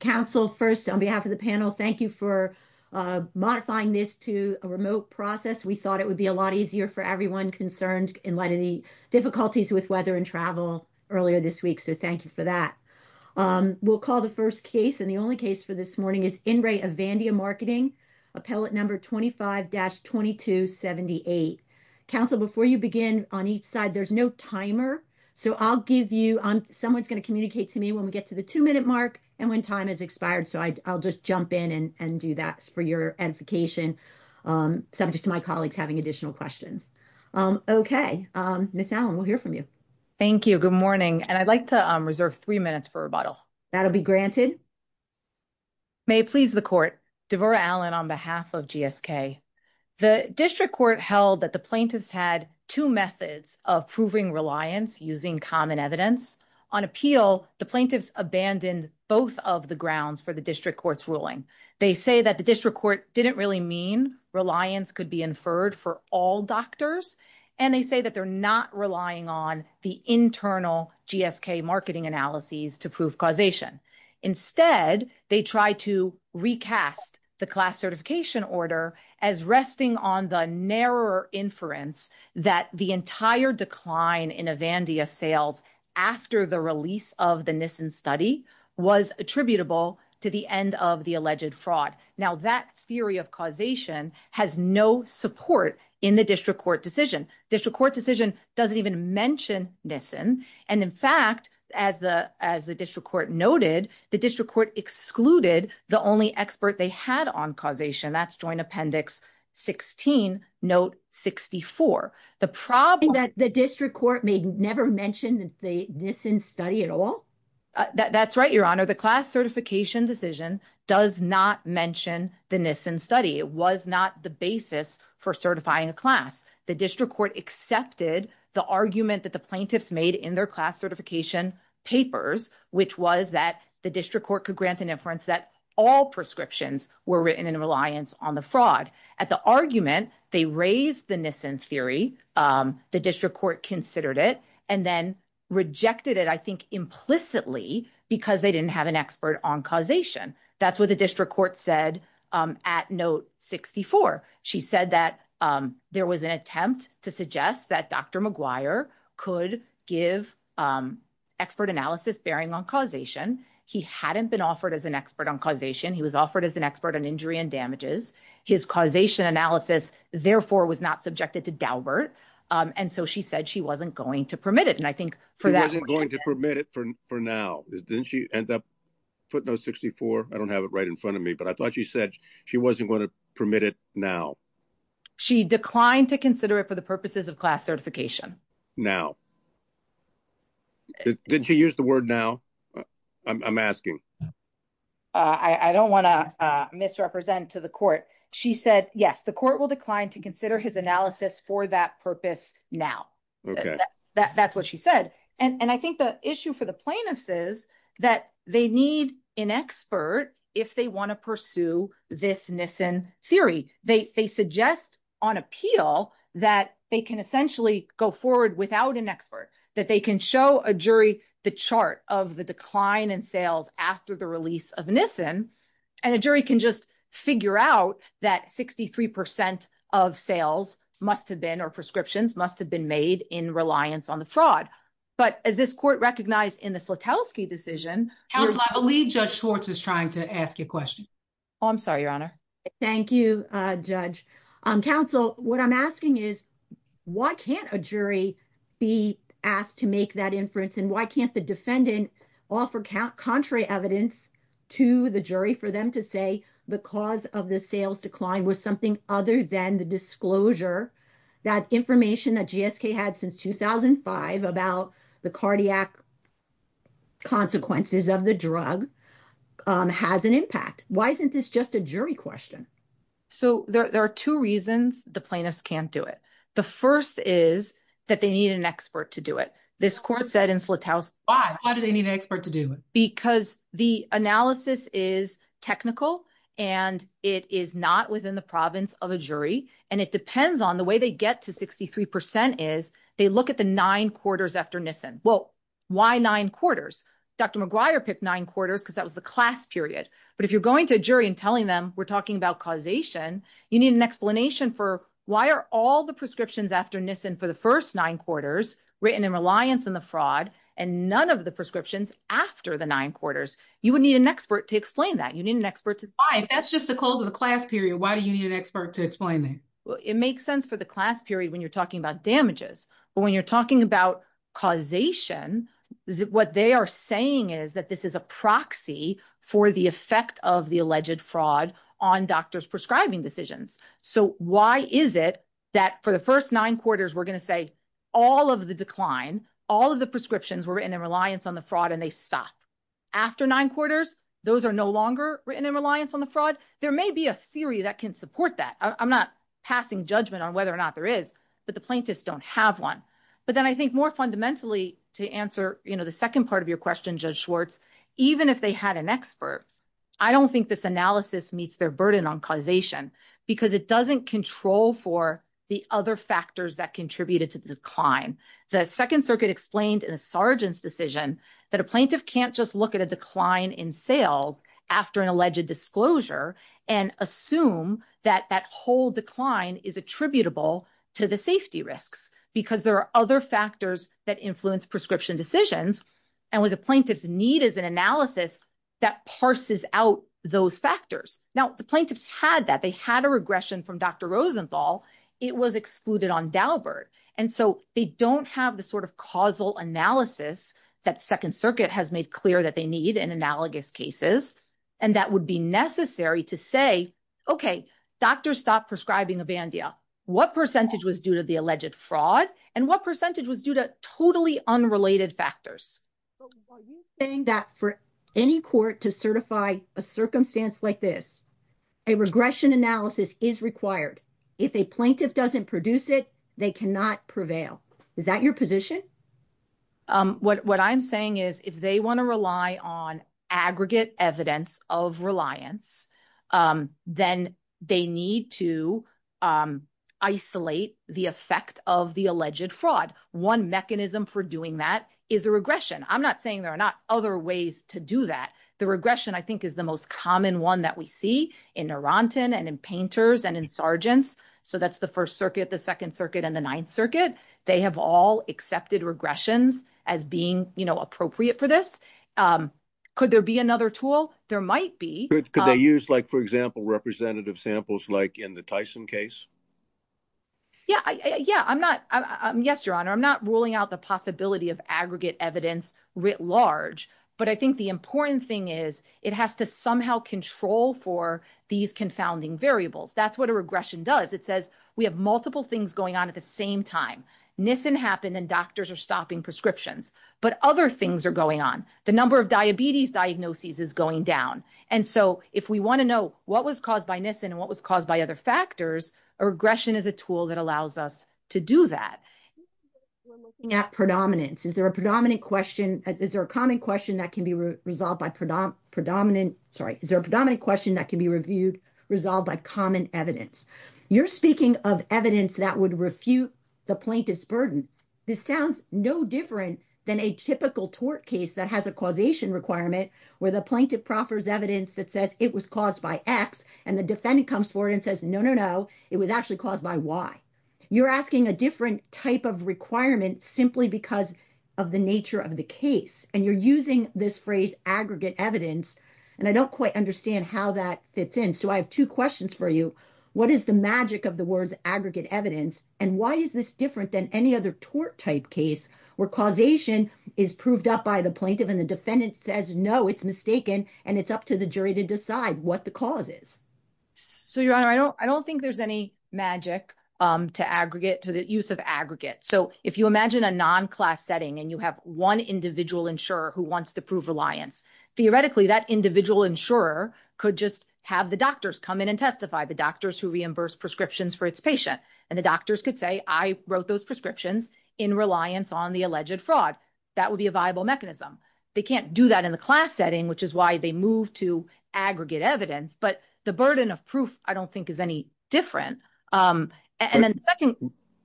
Council, first, on behalf of the panel, thank you for modifying this to a remote process. We thought it would be a lot easier for everyone concerned in light of the difficulties with weather and travel earlier this week, so thank you for that. We'll call the first case, and the only case for this morning is In Re Avandia Marketing, appellate number 25-2278. Council, before you begin, on each side, there's no timer, so I'll give you, someone's going to communicate to me when we get to the two-minute mark and when time has expired, so I'll just jump in and do that for your edification, subject to my colleagues having additional questions. Okay. Ms. Allen, we'll hear from you. Thank you. Good morning, and I'd like to reserve three minutes for rebuttal. That'll be granted. May it please the court, Devorah Allen on behalf of GSK. The district court held that the plaintiffs had two methods of proving reliance using common evidence. On appeal, the plaintiffs abandoned both of the grounds for the district court's ruling. They say that the district court didn't really mean reliance could be inferred for all doctors, and they say that they're not relying on the internal GSK marketing analyses to prove causation. Instead, they tried to recast the class certification order as resting on the narrower inference that the entire decline in Avandia sales after the release of the Nissen study was attributable to the end of the alleged fraud. Now, that theory of causation has no support in the district court decision. District court decision doesn't even mention Nissen, and in fact, as the district court noted, the district court excluded the only expert they had on causation. That's joint appendix 16, note 64. The problem- The district court may never mention the Nissen study at all? That's right, your honor. The class certification decision does not mention the Nissen study. It was not the basis for certifying a class. The district court accepted the argument that the plaintiffs made in their class certification papers, which was that the district court could grant an inference that all prescriptions were written in reliance on the fraud. At the argument, they raised the Nissen theory, the district court considered it, and then rejected it, I think, implicitly because they didn't have an expert on causation. That's what the district court said at note 64. She said that there was an attempt to suggest that Dr. McGuire could give expert analysis bearing on causation. He hadn't been offered as an expert on causation. He was offered as an expert on injury and damages. His causation analysis, therefore, was not subjected to Daubert. And so she said she wasn't going to permit it. And I think for that- She wasn't going to permit it for now. Didn't she end up, footnote 64, I don't have it right in front of me, but I thought she said she wasn't going to permit it now. She declined to consider it for the purposes of class certification. Now. Didn't she use the word now? I'm asking. I don't want to misrepresent to the court. She said, yes, the court will decline to consider his analysis for that purpose now. That's what she said. And I think the issue for the plaintiffs is that they need an expert if they want to pursue this Nissen theory. They suggest on appeal that they can essentially go forward without an expert, that they can show a jury the chart of the decline in sales after the release of Nissen, and a jury can just figure out that 63 percent of sales must have been, or prescriptions, must have been made in reliance on the fraud. But as this court recognized in the Slutowski decision- Counsel, I believe Judge Schwartz is trying to ask you a question. Oh, I'm sorry, Your Honor. Thank you, Judge. Counsel, what I'm asking is, why can't a jury be asked to make that inference, and why can't the defendant offer contrary evidence to the jury for them to say the cause of the sales decline was something other than the disclosure that information that GSK had since 2005 about the cardiac consequences of the drug has an impact? Why isn't this just a jury question? So there are two reasons the plaintiffs can't do it. The first is that they need an expert to do it. This court said in Slutowski- Why? Why do they need an expert to do it? Because the analysis is technical and it is not within the province of a jury. And it depends on the way they get to 63 percent is they look at the nine quarters after Nissen. Well, why nine quarters? Dr. McGuire picked nine quarters because that was the class period. But if you're going to a jury and telling them we're talking about causation, you need an explanation for why are all the prescriptions after Nissen for the first nine quarters written in reliance on the fraud and none of the prescriptions after the nine quarters? You would need an expert to explain that. You need an expert to- Why? That's just the close of the class period. Why do you need an expert to explain that? Well, it makes sense for the class period when you're talking about damages. But when you're talking about causation, what they are saying is that this is a proxy for the effect of the alleged fraud on doctors prescribing decisions. So why is it that for the first nine quarters, we're going to say all of the decline, all of the prescriptions were written in reliance on the fraud and they stopped. After nine quarters, those are no longer written in reliance on the fraud. There may be a theory that can support that. I'm not passing judgment on whether or not there is, but the plaintiffs don't have one. But then I think more fundamentally to answer, you know, the second part of your question, even if they had an expert, I don't think this analysis meets their burden on causation because it doesn't control for the other factors that contributed to the decline. The Second Circuit explained in a sergeant's decision that a plaintiff can't just look at a decline in sales after an alleged disclosure and assume that that whole decline is attributable to the safety risks because there are other factors that influence prescription decisions. And what the plaintiffs need is an analysis that parses out those factors. Now, the plaintiffs had that. They had a regression from Dr. Rosenthal. It was excluded on Daubert. And so they don't have the sort of causal analysis that the Second Circuit has made clear that they need in analogous cases. And that would be necessary to say, OK, doctors stopped prescribing Avandia. What percentage was due to the alleged fraud and what percentage was due to totally unrelated factors? But are you saying that for any court to certify a circumstance like this, a regression analysis is required? If a plaintiff doesn't produce it, they cannot prevail. Is that your position? What I'm saying is if they want to rely on aggregate evidence of reliance, then they need to isolate the effect of the alleged fraud. One mechanism for doing that is a regression. I'm not saying there are not other ways to do that. The regression, I think, is the most common one that we see in Arantan and in Painters and in Sargents. So that's the First Circuit, the Second Circuit, and the Ninth Circuit. They have all accepted regressions as being appropriate for this. Could there be another tool? There might be. But could they use, like, for example, representative samples like in the Tyson case? Yeah. Yeah, I'm not. Yes, Your Honor, I'm not ruling out the possibility of aggregate evidence writ large. But I think the important thing is it has to somehow control for these confounding variables. That's what a regression does. It says we have multiple things going on at the same time. Nissen happened and doctors are stopping prescriptions. But other things are going on. The number of diabetes diagnoses is going down. And so if we want to know what was caused by Nissen and what was caused by other factors, a regression is a tool that allows us to do that. We're looking at predominance. Is there a predominant question? Is there a common question that can be resolved by predominant? Sorry. Is there a predominant question that can be reviewed, resolved by common evidence? You're speaking of evidence that would refute the plaintiff's burden. This sounds no different than a typical tort case that has a causation requirement, where the plaintiff proffers evidence that says it was caused by X. And the defendant comes forward and says, no, no, no, it was actually caused by Y. You're asking a different type of requirement simply because of the nature of the case. And you're using this phrase aggregate evidence. And I don't quite understand how that fits in. So I have two questions for you. What is the magic of the words aggregate evidence? And why is this different than any other tort type case, where causation is proved up by the plaintiff and the defendant says, no, it's mistaken, and it's up to the jury to decide what the cause is? So, Your Honor, I don't think there's any magic to aggregate, to the use of aggregate. So if you imagine a non-class setting, and you have one individual insurer who wants to prove reliance, theoretically, that individual insurer could just have the doctors come in and testify, the doctors who reimburse prescriptions for its patient. And the doctors could say, I wrote those prescriptions in reliance on the alleged fraud. That would be a viable mechanism. They can't do that in the class setting, which is why they move to aggregate evidence. But the burden of proof, I don't think, is any different. And then the second-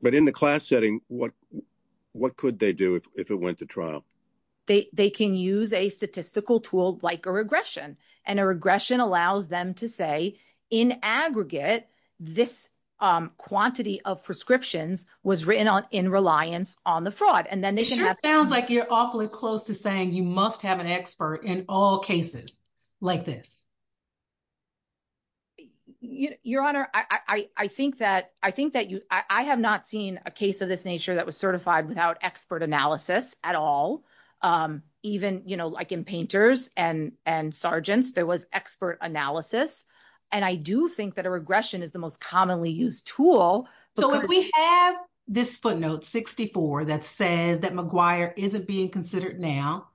But in the class setting, what could they do if it went to trial? They can use a statistical tool like a regression. And a regression allows them to say, in aggregate, this quantity of prescriptions was written in reliance on the fraud. It sure sounds like you're awfully close to saying, you must have an expert in all cases like this. Your Honor, I think that I have not seen a case of this nature that was certified without expert analysis at all. Even like in painters and sergeants, there was expert analysis. And I do think that a regression is the most commonly used tool. So, if we have this footnote, 64, that says that McGuire isn't being considered now,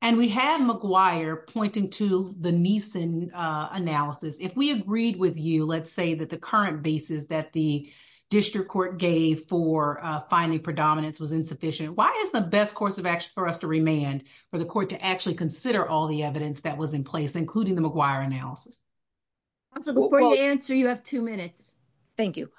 and we have McGuire pointing to the Neeson analysis, if we agreed with you, let's say, that the current basis that the district court gave for finding predominance was insufficient, why is the best course of action for us to remand, for the court to actually consider all the evidence that was in place, including the McGuire analysis? Before you answer, you have two minutes. Thank you.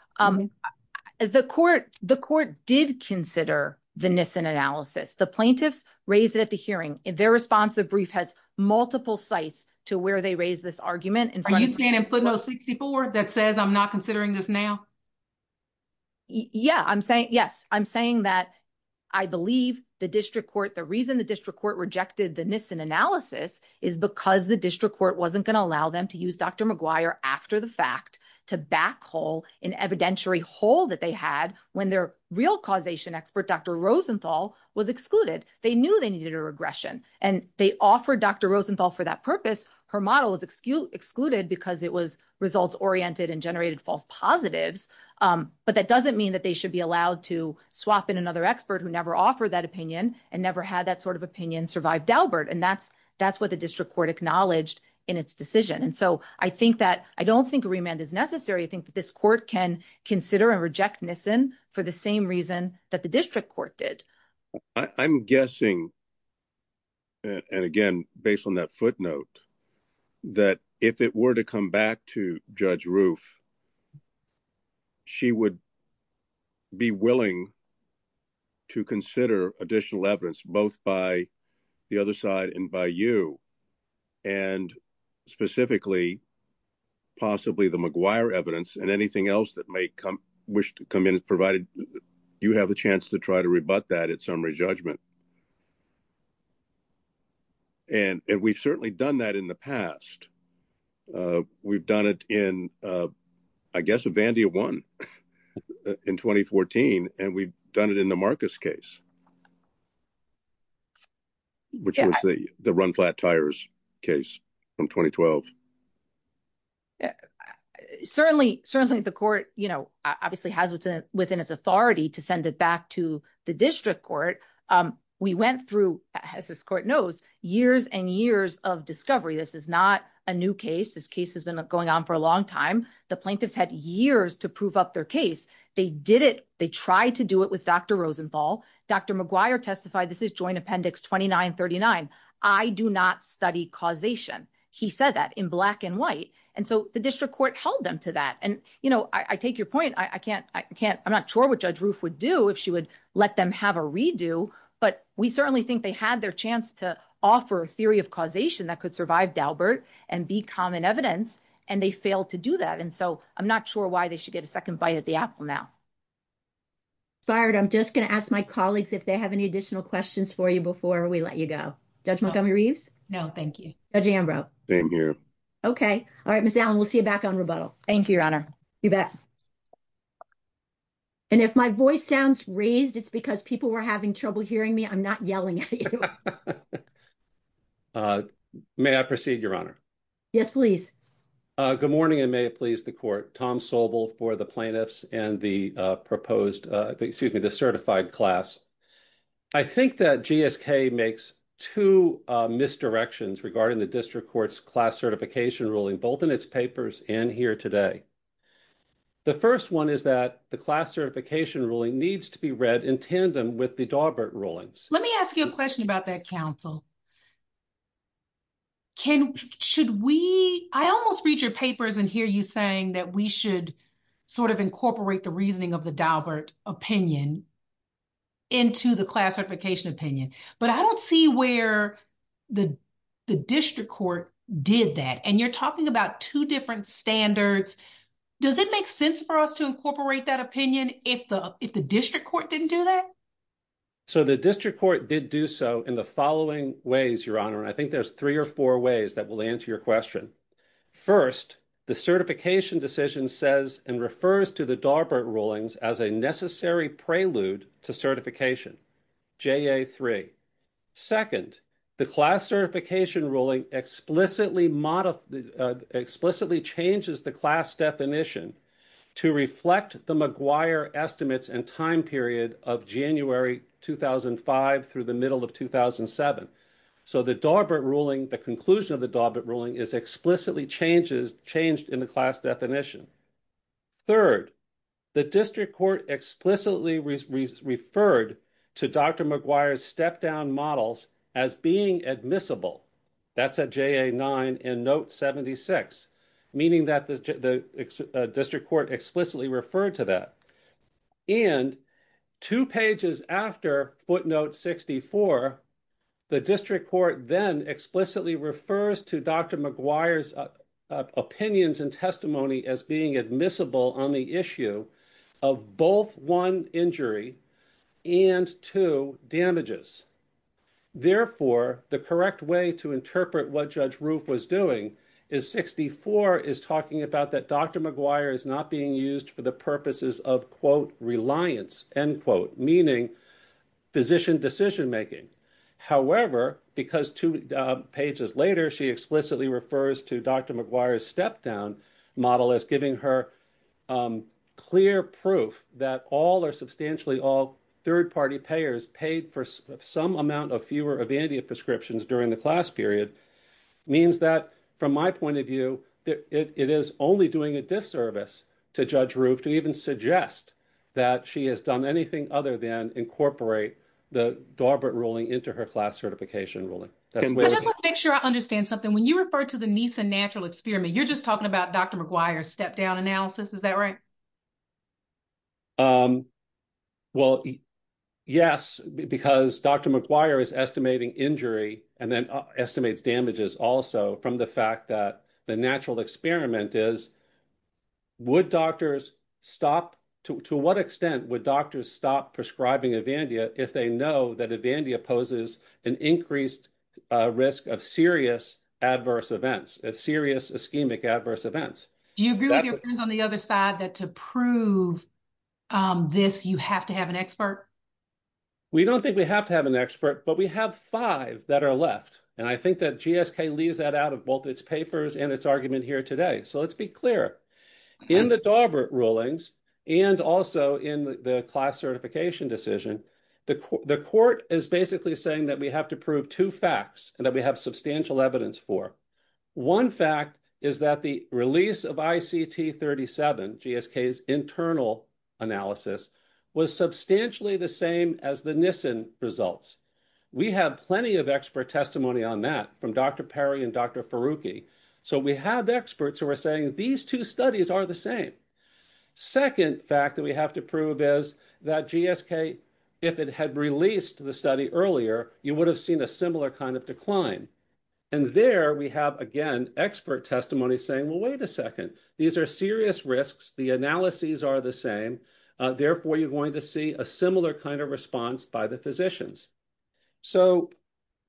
The court did consider the Neeson analysis. The plaintiffs raised it at the hearing. Their responsive brief has multiple sites to where they raised this argument. Are you saying in footnote 64, that says I'm not considering this now? Yeah, I'm saying, yes. I'm saying that I believe the district court, the reason the district court rejected the Neeson analysis is because the district court wasn't going to allow them to use Dr. McGuire after the fact to backhole an evidentiary hole that they had when their real causation expert, Dr. Rosenthal was excluded. They knew they needed a regression and they offered Dr. Rosenthal for that purpose. Her model was excluded because it was results oriented and generated false positives. But that doesn't mean that they should be allowed to swap in another expert who never offered that opinion and never had that sort of opinion survive Dalbert. And that's what the district court acknowledged in its decision. And so I think that, I don't think remand is necessary. I think that this court can consider and reject Neeson for the same reason that the district court did. I'm guessing, and again, based on that footnote, that if it were to come back to Judge Roof, she would be willing to consider additional evidence, both by the other side and by you. And specifically, possibly the McGuire evidence and anything else that may come, wish to come in, provided you have a chance to try to rebut that at summary judgment. And we've certainly done that in the past. We've done it in, I guess, a Vandia one in 2014, and we've done it in the Marcus case. Which was the run-flat-tires case from 2012. Certainly, certainly the court, you know, obviously has within its authority to send it back to the district court. We went through, as this court knows, years and years of discovery. This is not a new case. This case has been going on for a long time. The plaintiffs had years to prove up their case. They did it. They tried to do it with Dr. Rosenthal. Dr. McGuire testified, this is joint appendix 2939. I do not study causation. He said that in black and white. And so the district court held them to that. And, you know, I take your point. I can't, I can't, I'm not sure what Judge Roof would do if she would let them have a redo. But we certainly think they had their chance to offer a theory of causation that could survive Daubert and be common evidence. And they failed to do that. And so I'm not sure why they should get a second bite at the apple now. Inspired. I'm just going to ask my colleagues if they have any additional questions for you before we let you go. Judge Montgomery Reeves. No, thank you. Judge Ambrose. Okay. All right, Miss Allen, we'll see you back on rebuttal. Thank you, Your Honor. You bet. And if my voice sounds raised, it's because people were having trouble hearing me. I'm not yelling at you. May I proceed, Your Honor? Yes, please. Good morning, and may it please the court. Tom Sobel for the plaintiffs and the certified class. I think that GSK makes two misdirections regarding the District Court's class certification ruling, both in its papers and here today. The first one is that the class certification ruling needs to be read in tandem with the Daubert rulings. Let me ask you a question about that, counsel. I almost read your papers and hear you saying that we should sort of incorporate the reasoning of the Daubert opinion into the class certification opinion. But I don't see where the District Court did that. And you're talking about two different standards. Does it make sense for us to incorporate that opinion if the District Court didn't do that? So the District Court did do so in the following ways, Your Honor, and I think there's three or four ways that will answer your question. First, the certification decision says and refers to the Daubert rulings as a necessary prelude to certification, JA3. Second, the class certification ruling explicitly changes the class definition to reflect the McGuire estimates and time period of January 2005 through the middle of 2007. So the conclusion of the Daubert ruling is explicitly changed in the class definition. Third, the District Court explicitly referred to Dr. McGuire's step-down models as being admissible. That's at JA9 in note 76, meaning that the District Court explicitly referred to that. And two pages after footnote 64, the District Court then explicitly refers to Dr. McGuire's opinions and testimony as being admissible on the issue of both one injury and two damages. Therefore, the correct way to interpret what Judge Roof was doing is 64 is talking about that Dr. McGuire is not being used for the purposes of, quote, reliance, end quote, meaning physician decision-making. However, because two pages later, she explicitly refers to Dr. McGuire's step-down model as giving her clear proof that all or substantially all third-party payers paid for some amount of fewer Evandia prescriptions during the class period means that, from my point of view, it is only doing a disservice to Judge Roof to even suggest that she has done anything other than incorporate the Daubert ruling into her class certification ruling. I just want to make sure I understand something. When you refer to the NISA natural experiment, you're just talking about Dr. McGuire's step-down analysis. Is that right? Well, yes, because Dr. McGuire is estimating injury and then estimates damages also from the fact that the natural experiment is, to what extent would doctors stop prescribing Evandia if they know that Evandia poses an increased risk of serious adverse events, serious ischemic adverse events? Do you agree with your friends on the other side that to prove this, you have to have an expert? We don't think we have to have an expert, but we have five that are left. I think that GSK leaves that out of both its papers and its argument here today. So let's be clear. In the Daubert rulings and also in the class certification decision, the court is basically saying that we have to prove two facts and that we have substantial evidence for. One fact is that the release of ICT 37, GSK's internal analysis, was substantially the same as the NISN results. We have plenty of expert testimony on that from Dr. Perry and Dr. Faruqi. So we have experts who are saying these two studies are the same. Second fact that we have to prove is that GSK, if it had released the study earlier, you would have seen a similar kind of decline. And there we have, again, expert testimony saying, well, wait a second. These are serious risks. The analyses are the same. Therefore, you're going to see a similar kind of response by the physicians. So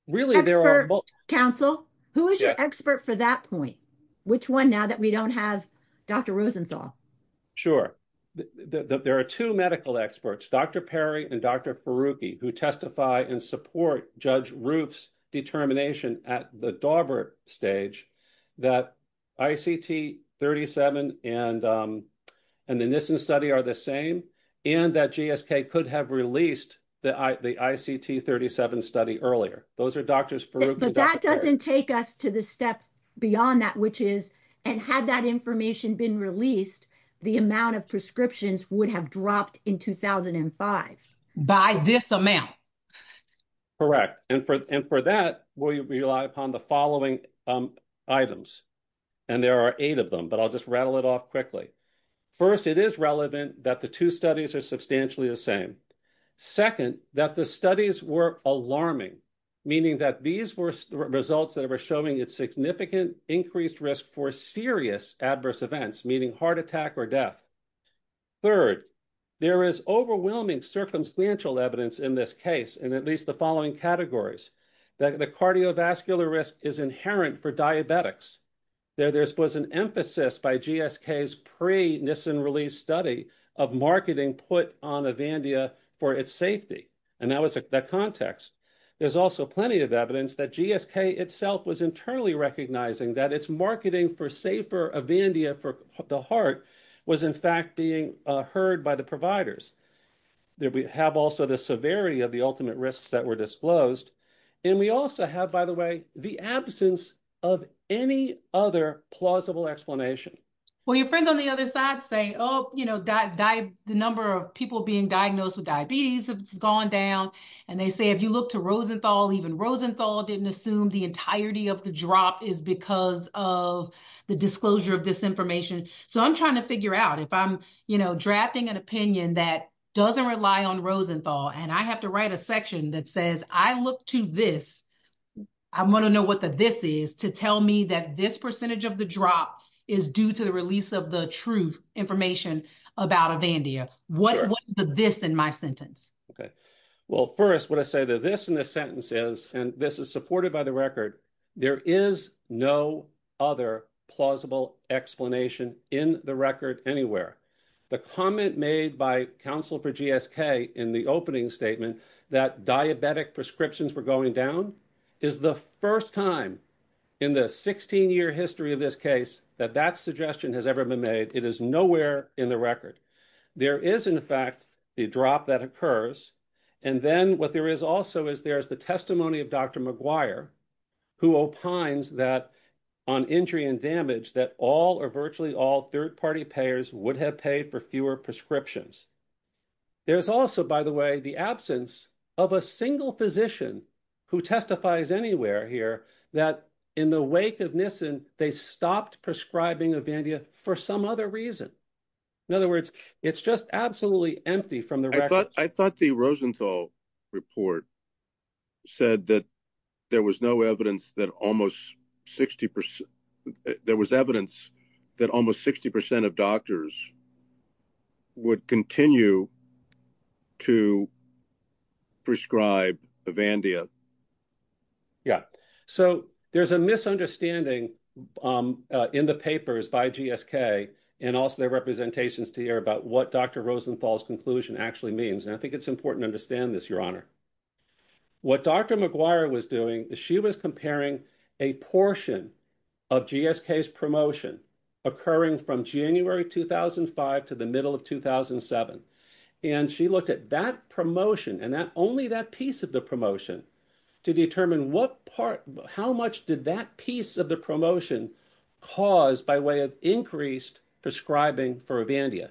really, there are both- Expert counsel, who is your expert for that point? Which one now that we don't have Dr. Rosenthal? Sure. There are two medical experts, Dr. Perry and Dr. Faruqi, who testify and support Judge Roof's determination at the Daubert stage that ICT 37 and the NISN study are the same and that GSK could have released the ICT 37 study earlier. Those are Drs. Faruqi and Dr. Perry. But that doesn't take us to the step beyond that, which is, and had that information been released, the amount of prescriptions would have dropped in 2005. By this amount. Correct. And for that, we rely upon the following items. And there are eight of them, but I'll just rattle it off quickly. First, it is relevant that the two studies are substantially the same. Second, that the studies were alarming, meaning that these were results that were showing its significant increased risk for serious adverse events, meaning heart attack or death. Third, there is overwhelming circumstantial evidence in this case, and at least the following categories, that the cardiovascular risk is inherent for diabetics. There was an emphasis by GSK's pre-NISN release study of marketing put on Avandia for its safety. And that was the context. There's also plenty of evidence that GSK itself was internally recognizing that its marketing for safer Avandia for the heart was, in fact, being heard by the providers. There we have also the severity of the ultimate risks that were disclosed. And we also have, by the way, the absence of any other plausible explanation. Well, your friends on the other side say, oh, the number of people being diagnosed with diabetes has gone down. And they say, if you look to Rosenthal, even Rosenthal didn't assume the entirety of the drop is because of the disclosure of this information. So I'm trying to figure out if I'm drafting an opinion that doesn't rely on Rosenthal, and I have to write a section that says, I look to this, I want to know what the this is to tell me that this percentage of the drop is due to the release of the true information about Avandia. What is the this in my sentence? Okay. Well, first, what I say, the this in the sentence is, and this is supported by the record, there is no other plausible explanation in the record anywhere. The comment made by counsel for GSK in the opening statement that diabetic prescriptions were going down is the first time in the 16-year history of this case that that suggestion has ever been made. It is nowhere in the record. There is, in fact, a drop that occurs. And then what there is also is there is the testimony of Dr. Maguire, who opines that on injury and damage that all or virtually all third-party payers would have paid for fewer prescriptions. There's also, by the way, the absence of a single physician who testifies anywhere here that in the wake of Nissen, they stopped prescribing Avandia for some other reason. In other words, it's just absolutely empty from the record. I thought the Rosenthal report said that there was no evidence that almost 60 percent, there was evidence that almost 60 percent of doctors would continue to prescribe Avandia. Yeah. So there's a misunderstanding in the papers by GSK and also their representations to hear about what Dr. Rosenthal's conclusion actually means. And I think it's important to understand this, Your Honor. What Dr. Maguire was doing is she was comparing a portion of GSK's promotion occurring from January 2005 to the middle of 2007. And she looked at that promotion and that only that piece of the promotion to determine what part, how much did that piece of the promotion cause by way of increased prescribing for Avandia.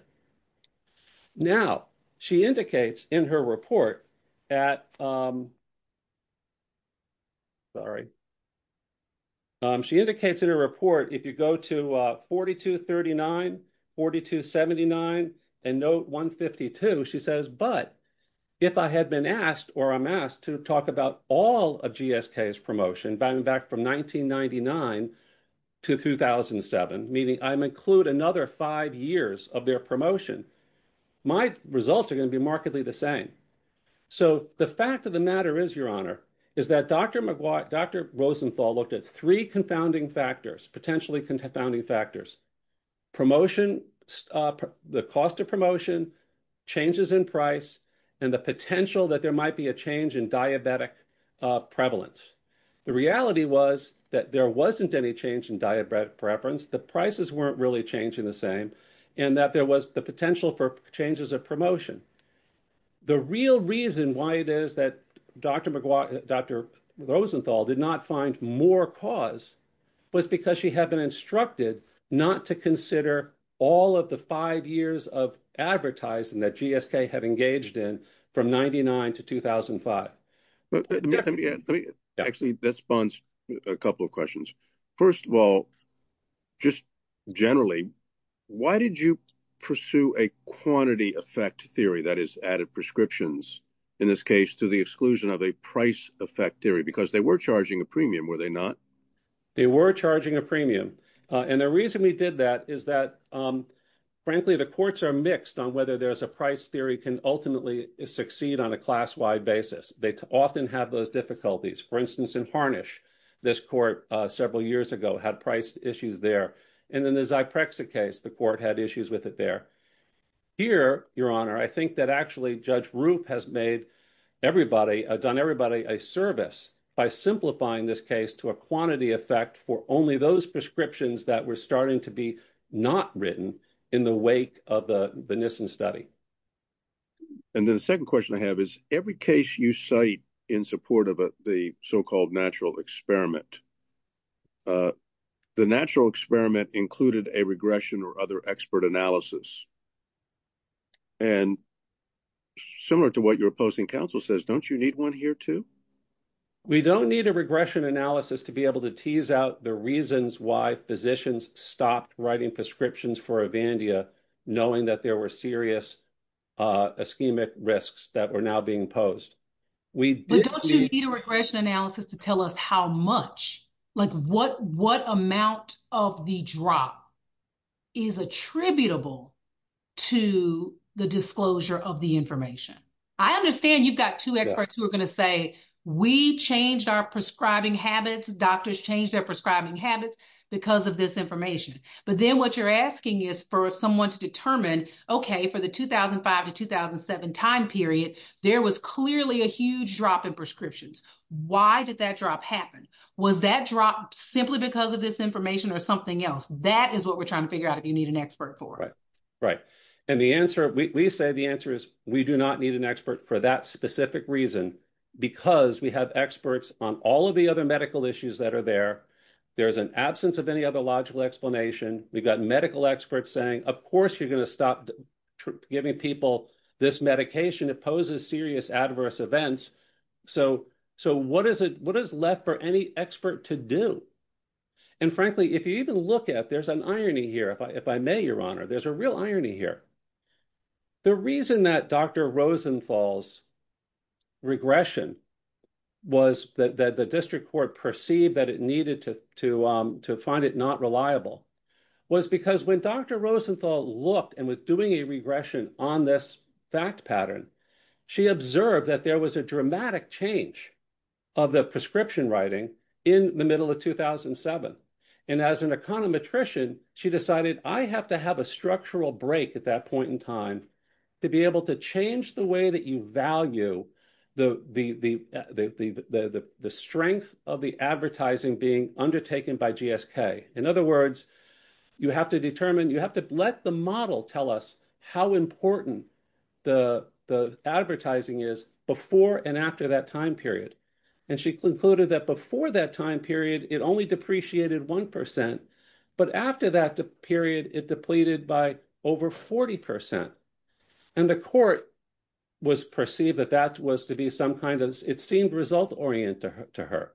Now, she indicates in her report at. Sorry. She indicates in her report, if you go to 4239, 4279 and note 152, she says, but if I had been asked or I'm asked to talk about all of GSK's promotion back from 1999 to 2007, meaning I'm include another five years of their promotion, my results are going to be markedly the same. So the fact of the matter is, Your Honor, is that Dr. Maguire, Dr. Rosenthal looked at three confounding factors, potentially confounding factors. Promotion, the cost of promotion, changes in price and the potential that there might be a change in diabetic prevalence. The reality was that there wasn't any change in diabetic preference. The prices weren't really changing the same and that there was the potential for changes of promotion. The real reason why it is that Dr. Maguire, Dr. Rosenthal did not find more cause was because she had been instructed not to consider all of the five years of advertising that GSK had engaged in from 99 to 2005. Let me add, actually, this bonds a couple of questions. First of all, just generally, why did you pursue a quantity effect theory that is added prescriptions, in this case, to the exclusion of a price effect theory? Because they were charging a premium, were they not? They were charging a premium. And the reason we did that is that, frankly, the courts are mixed on whether there's a price theory can ultimately succeed on a class-wide basis. They often have those difficulties. For instance, in Harnish, this court, several years ago, had price issues there. And in the Zyprexa case, the court had issues with it there. Here, Your Honor, I think that actually Judge Rupp has made everybody, done everybody a service by simplifying this case to a quantity effect for only those prescriptions that were starting to be not written in the wake of the Nissen study. And then the second question I have is, every case you cite in support of the so-called natural experiment, the natural experiment included a regression or other expert analysis. And similar to what your opposing counsel says, don't you need one here, too? We don't need a regression analysis to be able to tease out the reasons why physicians stopped writing prescriptions for Avandia, knowing that there were serious ischemic risks that were now being posed. But don't you need a regression analysis to tell us how much, like what amount of the drop is attributable to the disclosure of the information? I understand you've got two experts who are going to say, we changed our prescribing habits, doctors changed their prescribing habits because of this information. But then what you're asking is for someone to determine, okay, for the 2005 to 2007 time period, there was clearly a huge drop in prescriptions. Why did that drop happen? Was that drop simply because of this information or something else? That is what we're trying to figure out if you need an expert for. And the answer, we say the answer is we do not need an expert for that specific reason, because we have experts on all of the other medical issues that are there. There's an absence of any other logical explanation. We've got medical experts saying, of course, you're going to stop giving people this medication. It poses serious adverse events. So what is left for any expert to do? And frankly, if you even look at, there's an irony here, if I may, Your Honor, there's a real irony here. The reason that Dr. Rosenthal's regression was that the district court perceived that it needed to find it not reliable was because when Dr. Rosenthal looked and was doing a regression on this fact pattern, she observed that there was a dramatic change of the prescription writing in the middle of 2007. And as an econometrician, she decided, I have to have a structural break at that point in time to be able to change the way that you value the strength of the advertising being undertaken by GSK. In other words, you have to determine, you have to let the model tell us how important the advertising is before and after that time period. And she concluded that before that time period, it only depreciated 1%, but after that period, it depleted by over 40%. And the court was perceived that that was to be some kind of, it seemed result-oriented to her.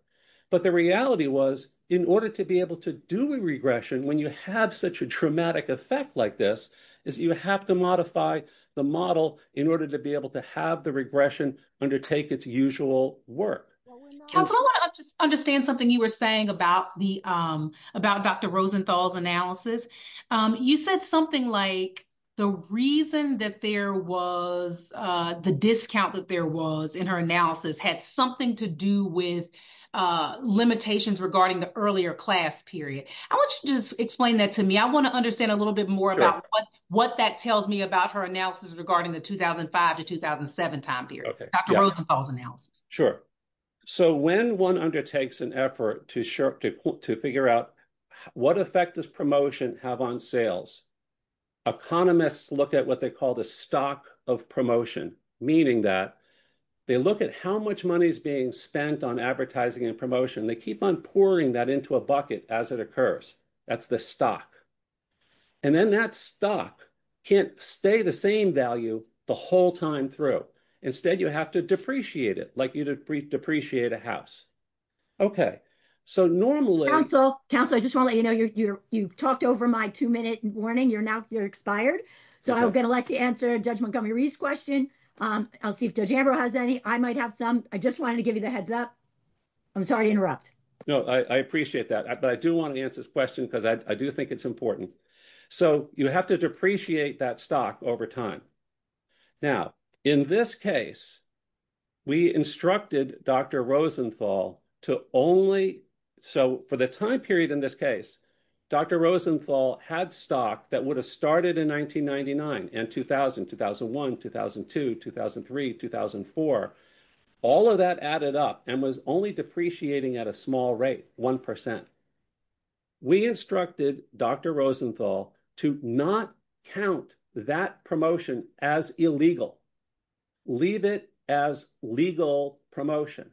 But the reality was, in order to be able to do a regression when you have such a dramatic effect like this, is you have to modify the model in order to be able to have the regression undertake its usual work. Counselor, I want to just understand something you were saying about Dr. Rosenthal's analysis. You said something like the reason that there was, the discount that there was in her analysis had something to do with limitations regarding the earlier class period. I want you to just explain that to me. I want to understand a little bit more about what that tells me about her analysis regarding the 2005 to 2007 time period. Dr. Rosenthal's analysis. Sure. So when one undertakes an effort to figure out what effect does promotion have on sales, economists look at what they call the stock of promotion, meaning that they look at how much money is being spent on advertising and promotion. They keep on pouring that into a bucket as it occurs. That's the stock. And then that stock can't stay the same value the whole time through. Instead, you have to depreciate it, like you depreciate a house. OK, so normally- Counselor, counselor, I just want to let you know you talked over my two-minute warning. You're now, you're expired. So I'm going to let you answer Judge Montgomery's question. I'll see if Judge Ambrose has any. I might have some. I just wanted to give you the heads up. I'm sorry to interrupt. No, I appreciate that. But I do want to answer this question because I do think it's important. So you have to depreciate that stock over time. Now, in this case, we instructed Dr. Rosenthal to only, so for the time period in this case, Dr. Rosenthal had stock that would have started in 1999 and 2000, 2001, 2002, 2003, 2004. All of that added up and was only depreciating at a small rate, 1%. We instructed Dr. Rosenthal to not count that promotion as illegal. Leave it as legal promotion.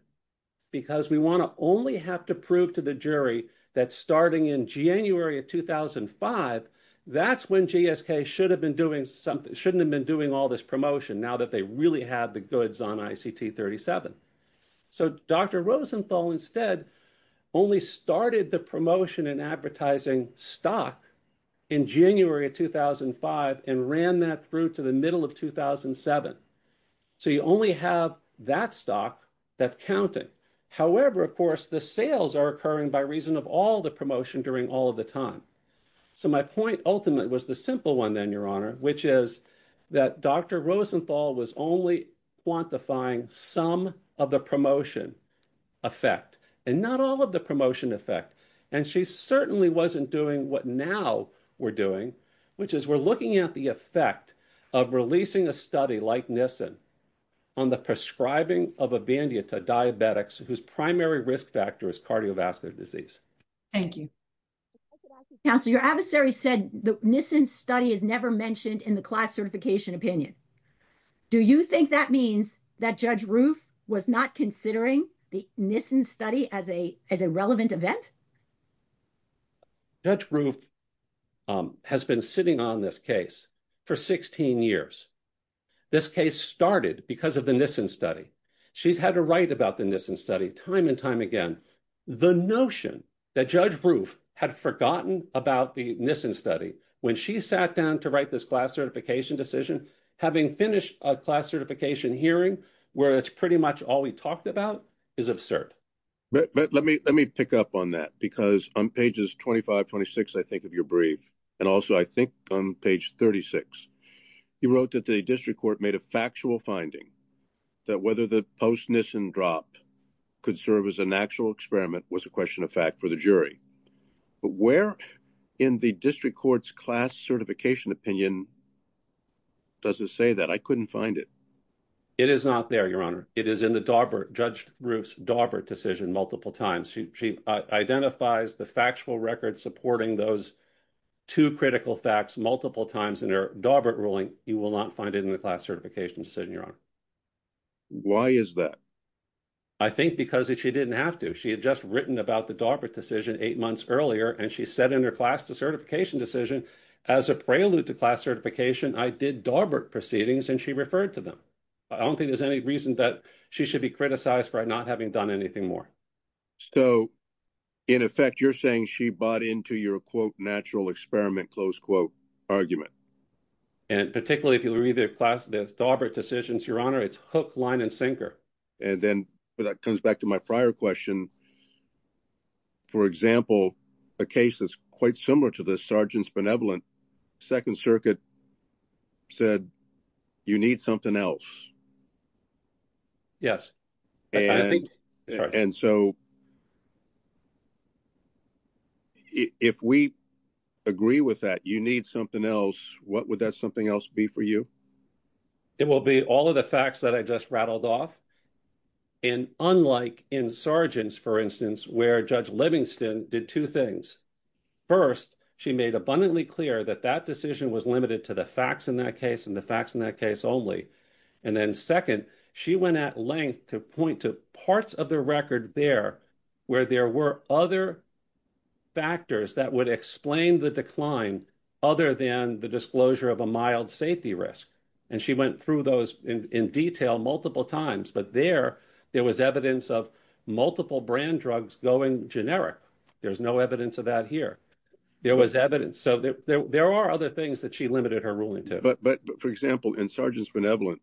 Because we want to only have to prove to the jury that starting in January of 2005, that's when GSK should have been doing something, shouldn't have been doing all this promotion now that they really have the goods on ICT37. So Dr. Rosenthal instead only started the promotion in advertising stock in January of 2005 and ran that through to the middle of 2007. So you only have that stock that's counting. However, of course, the sales are occurring by reason of all the promotion during all of the time. So my point ultimately was the simple one then, Your Honor, which is that Dr. Rosenthal was only quantifying some of the promotion effect and not all of the promotion effect. And she certainly wasn't doing what now we're doing, which is we're looking at the effect of releasing a study like Nissen on the prescribing of Avandia to diabetics whose primary risk factor is cardiovascular disease. Thank you. Counselor, your adversary said the Nissen study is never mentioned in the class certification opinion. Do you think that means that Judge Roof was not considering the Nissen study as a relevant event? Judge Roof has been sitting on this case for 16 years. This case started because of the Nissen study. She's had to write about the Nissen study time and time again. The notion that Judge Roof had forgotten about the Nissen study when she sat down to write this class certification decision, having finished a class certification hearing, where it's pretty much all we talked about, is absurd. Let me pick up on that because on pages 25, 26, I think of your brief, and also I think on page 36, you wrote that the district court made a factual finding that whether the post-Nissen drop could serve as an actual experiment was a question of fact for the jury. But where in the district court's class certification opinion does it say that? I couldn't find it. It is not there, Your Honor. It is in the Darbert, Judge Roof's Darbert decision multiple times. She identifies the factual record supporting those two critical facts multiple times in her Darbert ruling. You will not find it in the class certification decision, Your Honor. Why is that? I think because she didn't have to. She had just written about the Darbert decision eight months earlier, and she said in her class certification decision, as a prelude to class certification, I did Darbert proceedings, and she referred to them. I don't think there's any reason that she should be criticized for not having done anything more. So, in effect, you're saying she bought into your, quote, natural experiment, close quote, argument. And particularly if you read the Darbert decisions, Your Honor, it's hook, line, and sinker. And then that comes back to my prior question. For example, a case that's quite similar to this, Sargent's Benevolent, Second Circuit said, you need something else. And so, if we agree with that, you need something else, what would that something else be for you? It will be all of the facts that I just rattled off. And unlike in Sargent's, for instance, where Judge Livingston did two things. First, she made abundantly clear that that decision was limited to the facts in that case, and the facts in that case only. And then second, she went at length to point to parts of the record there, where there were other factors that would explain the decline, other than the disclosure of a mild safety risk. And she went through those in detail multiple times. But there, there was evidence of multiple brand drugs going generic. There's no evidence of that here. There was evidence. So, there are other things that she limited her ruling to. But, for example, in Sargent's Benevolent,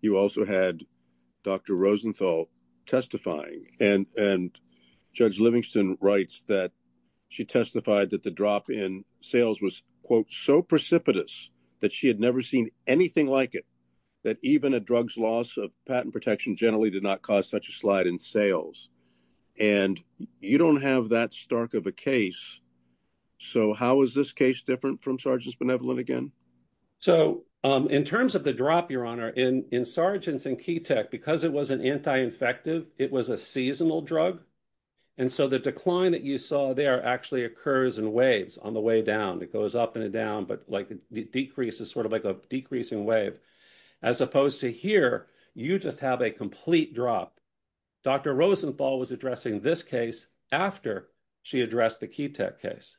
you also had Dr. Rosenthal testifying. And Judge Livingston writes that she testified that the drop in sales was, quote, so precipitous that she had never seen anything like it, that even a drug's loss of patent protection generally did not cause such a slide in sales. And you don't have that stark of a case. So, how is this case different from Sargent's Benevolent again? So, in terms of the drop, Your Honor, in Sargent's and Ketech, because it was an anti-infective, it was a seasonal drug. And so, the decline that you saw there actually occurs in waves on the way down. It goes up and down, but the decrease is sort of like a decreasing wave. As opposed to here, you just have a complete drop. Dr. Rosenthal was addressing this case after she addressed the Ketech case.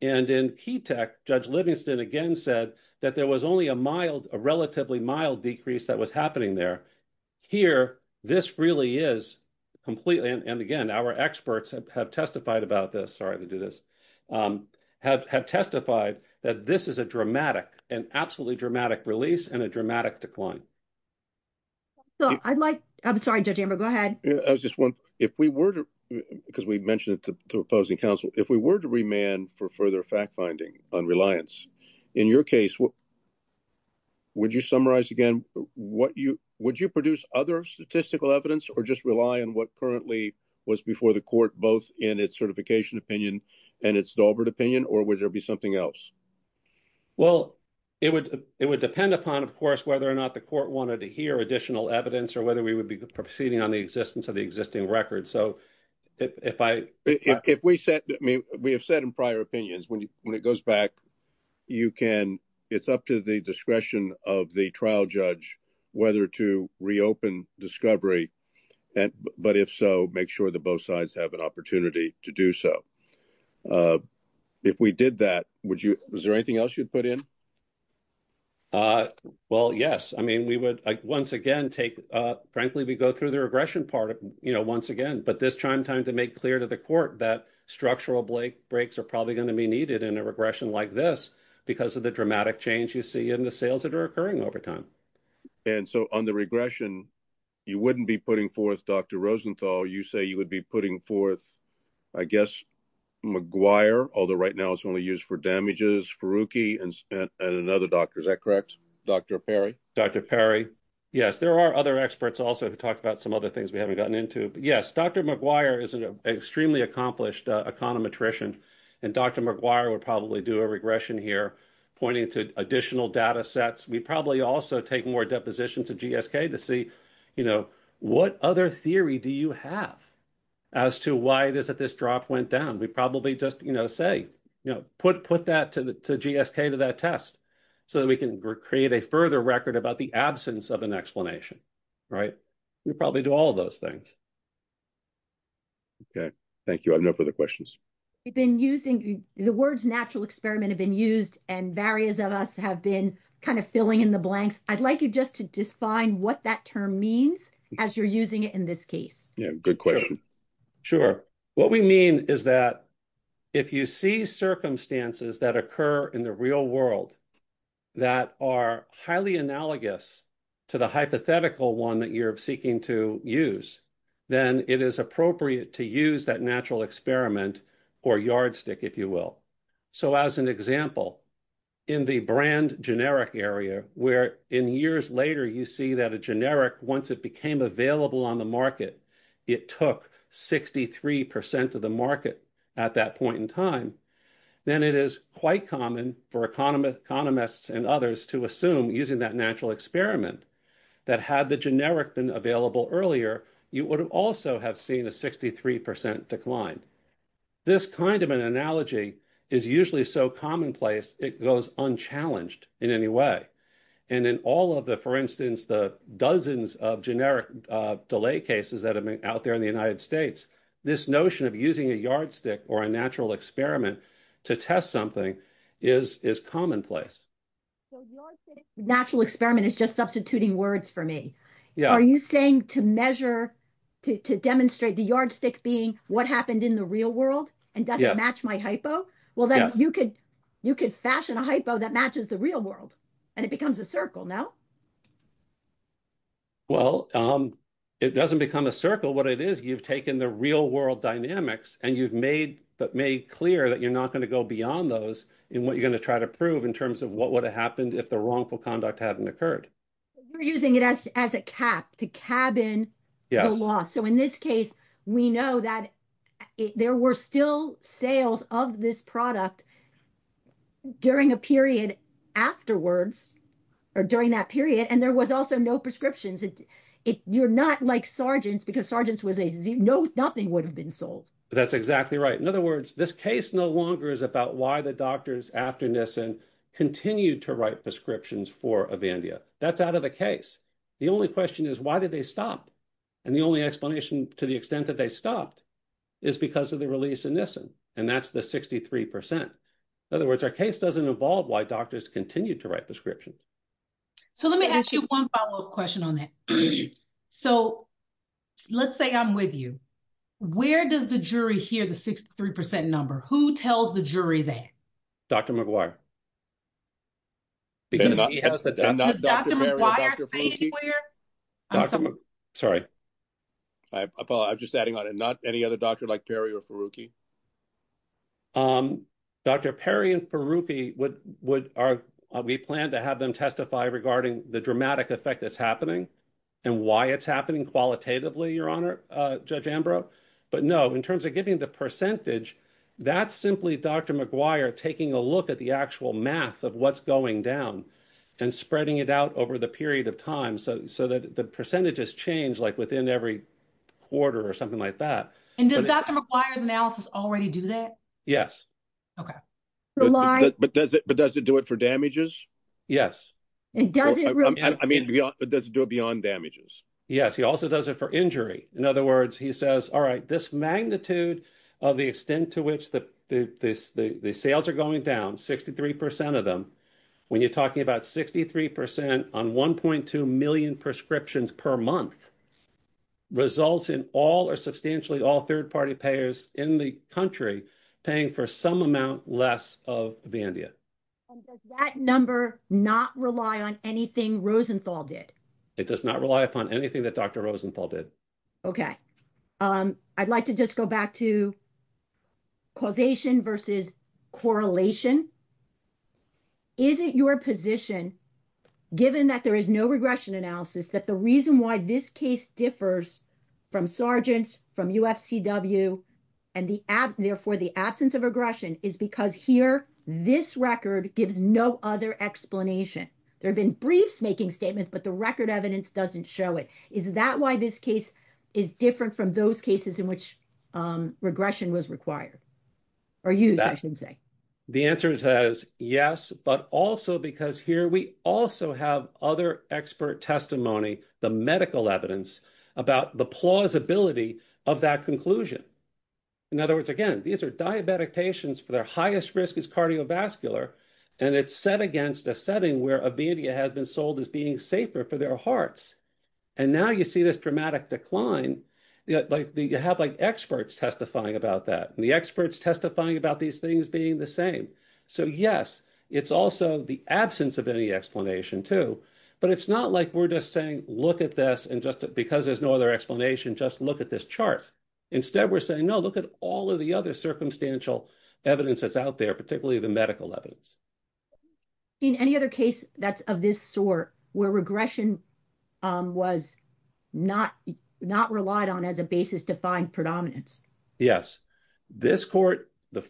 And in Ketech, Judge Livingston again said that there was only a mild, a relatively mild decrease that was happening there. Here, this really is completely, and again, our experts have testified about this, sorry to do this, have testified that this is a dramatic, an absolutely dramatic release and a dramatic decline. So, I'd like, I'm sorry, Judge Amber, go ahead. I was just wondering, if we were to, because we mentioned it to opposing counsel, if we were to remand for further fact-finding on Reliance, in your case, would you summarize again, would you produce other statistical evidence, or just rely on what currently was before the court, both in its certification opinion and its Daubert opinion, or would there be something else? Well, it would depend upon, of course, whether or not the court wanted to hear additional evidence, or whether we would be proceeding on the existence of the existing record. So, if I- If we said, I mean, we have said in prior opinions, when it goes back, you can, it's up to the discretion of the trial judge, whether to reopen discovery, but if so, make sure that both sides have an opportunity to do so. If we did that, would you, was there anything else you'd put in? Well, yes, I mean, we would, once again, take, frankly, we go through the regression part, you know, once again, but this time, time to make clear to the court that structural breaks are probably going to be needed in a regression like this because of the dramatic change you see in the sales that are occurring over time. And so, on the regression, you wouldn't be putting forth Dr. Rosenthal, you say you would be putting forth, I guess, McGuire, although right now it's only used for damages, Faruqi, and another doctor, is that correct? Dr. Perry. Dr. Perry. Yes, there are other experts also who talk about some other things we haven't gotten into, but yes, Dr. McGuire is an extremely accomplished econometrician, and Dr. McGuire would probably do a regression here, pointing to additional data sets. We'd probably also take more depositions of GSK to see, you know, what other theory do you have as to why it is that this drop went down? We'd probably just, you know, say, you know, put that to GSK to that test so that we can create a further record about the absence of an explanation, right? We'd probably do all of those things. Okay. Thank you. I have no further questions. We've been using, the words natural experiment have been used, and various of us have been kind of filling in the blanks. I'd like you just to define what that term means as you're using it in this case. Yeah, good question. Sure. What we mean is that if you see circumstances that occur in the real world that are highly analogous to the hypothetical one that you're seeking to use, then it is appropriate to use that natural experiment or yardstick, if you will. So, as an example, in the brand generic area, where in years later, you see that a generic, once it became available on the market, it took 63% of the market at that point in time, then it is quite common for economists and others to assume, using that natural experiment that had the generic been available earlier, you would also have seen a 63% decline. This kind of an analogy is usually so commonplace, it goes unchallenged in any way. And in all of the, for instance, the dozens of generic delay cases that have been out there in the United States, this notion of using a yardstick or a natural experiment to test something is commonplace. So, natural experiment is just substituting words for me. Are you saying to measure, to demonstrate the yardstick being what happened in the real world and doesn't match my hypo? Well, then you could fashion a hypo that matches the real world and it becomes a circle, no? Well, it doesn't become a circle. You've taken the real world dynamics and you've made clear that you're not going to go beyond those in what you're going to try to prove in terms of what would have happened if the wrongful conduct hadn't occurred. We're using it as a cap to cabin the loss. So, in this case, we know that there were still sales of this product during a period afterwards, or during that period, and there was also no prescriptions. You're not like Sargent's, because Sargent's was a, nothing would have been sold. That's exactly right. In other words, this case no longer is about why the doctors after Nissen continued to write prescriptions for Avandia. That's out of the case. The only question is, why did they stop? And the only explanation to the extent that they stopped is because of the release of Nissen, and that's the 63%. In other words, our case doesn't involve why doctors continued to write prescriptions. So, let me ask you one follow-up question on that. So, let's say I'm with you. Where does the jury hear the 63% number? Who tells the jury that? Dr. McGuire. Because he has the doctor. Does Dr. McGuire say anywhere? Sorry. I'm just adding on it. Not any other doctor like Perry or Faruqi. Dr. Perry and Faruqi, we plan to have them testify regarding the dramatic effect that's happening and why it's happening qualitatively, Your Honor, Judge Ambrose. But no, in terms of giving the percentage, that's simply Dr. McGuire taking a look at the actual math of what's going down and spreading it out over the period of time. So, that the percentage has changed like within every quarter or something like that. And does Dr. McGuire now say, Does it already do that? Yes. But does it do it for damages? Yes. I mean, does it do it beyond damages? Yes, he also does it for injury. In other words, he says, all right, this magnitude of the extent to which the sales are going down, 63% of them, when you're talking about 63% on 1.2 million prescriptions per month, results in all or substantially all third-party payers in the country paying for some amount less of Vandia. And does that number not rely on anything Rosenthal did? It does not rely upon anything that Dr. Rosenthal did. Okay. I'd like to just go back to causation versus correlation. Is it your position, given that there is no regression analysis, that the reason why this case differs from Sargent's, from UFCW, and therefore the absence of regression, is because here this record gives no other explanation. There've been briefs making statements, but the record evidence doesn't show it. Is that why this case is different from those cases in which regression was required? Or used, I should say. The answer to that is yes, but also because here we also have other expert testimony, the medical evidence, about the plausibility of that conclusion. In other words, again, these are diabetic patients for their highest risk is cardiovascular, and it's set against a setting where a Vandia has been sold as being safer for their hearts. And now you see this dramatic decline. You have like experts testifying about that, and the experts testifying about these things being the same. So yes, it's also the absence of any explanation too, but it's not like we're just saying, look at this and just, because there's no other explanation, just look at this chart. Instead, we're saying, no, look at all of the other circumstantial evidence that's out there, particularly the medical evidence. In any other case that's of this sort, where regression was not relied on as a basis to find predominance? Yes, this court, the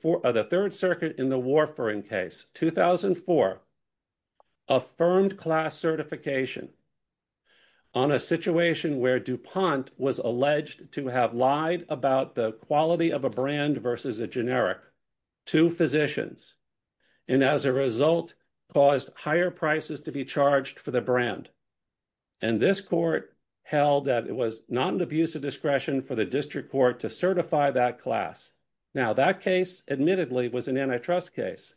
Third Circuit in the Warfarin case, 2004, affirmed class certification on a situation where DuPont was alleged to have lied about the quality of a brand versus a generic to physicians. And as a result caused higher prices to be charged for the brand. And this court held that it was not an abuse of discretion for the district court to certify that class. Now that case admittedly was an antitrust case,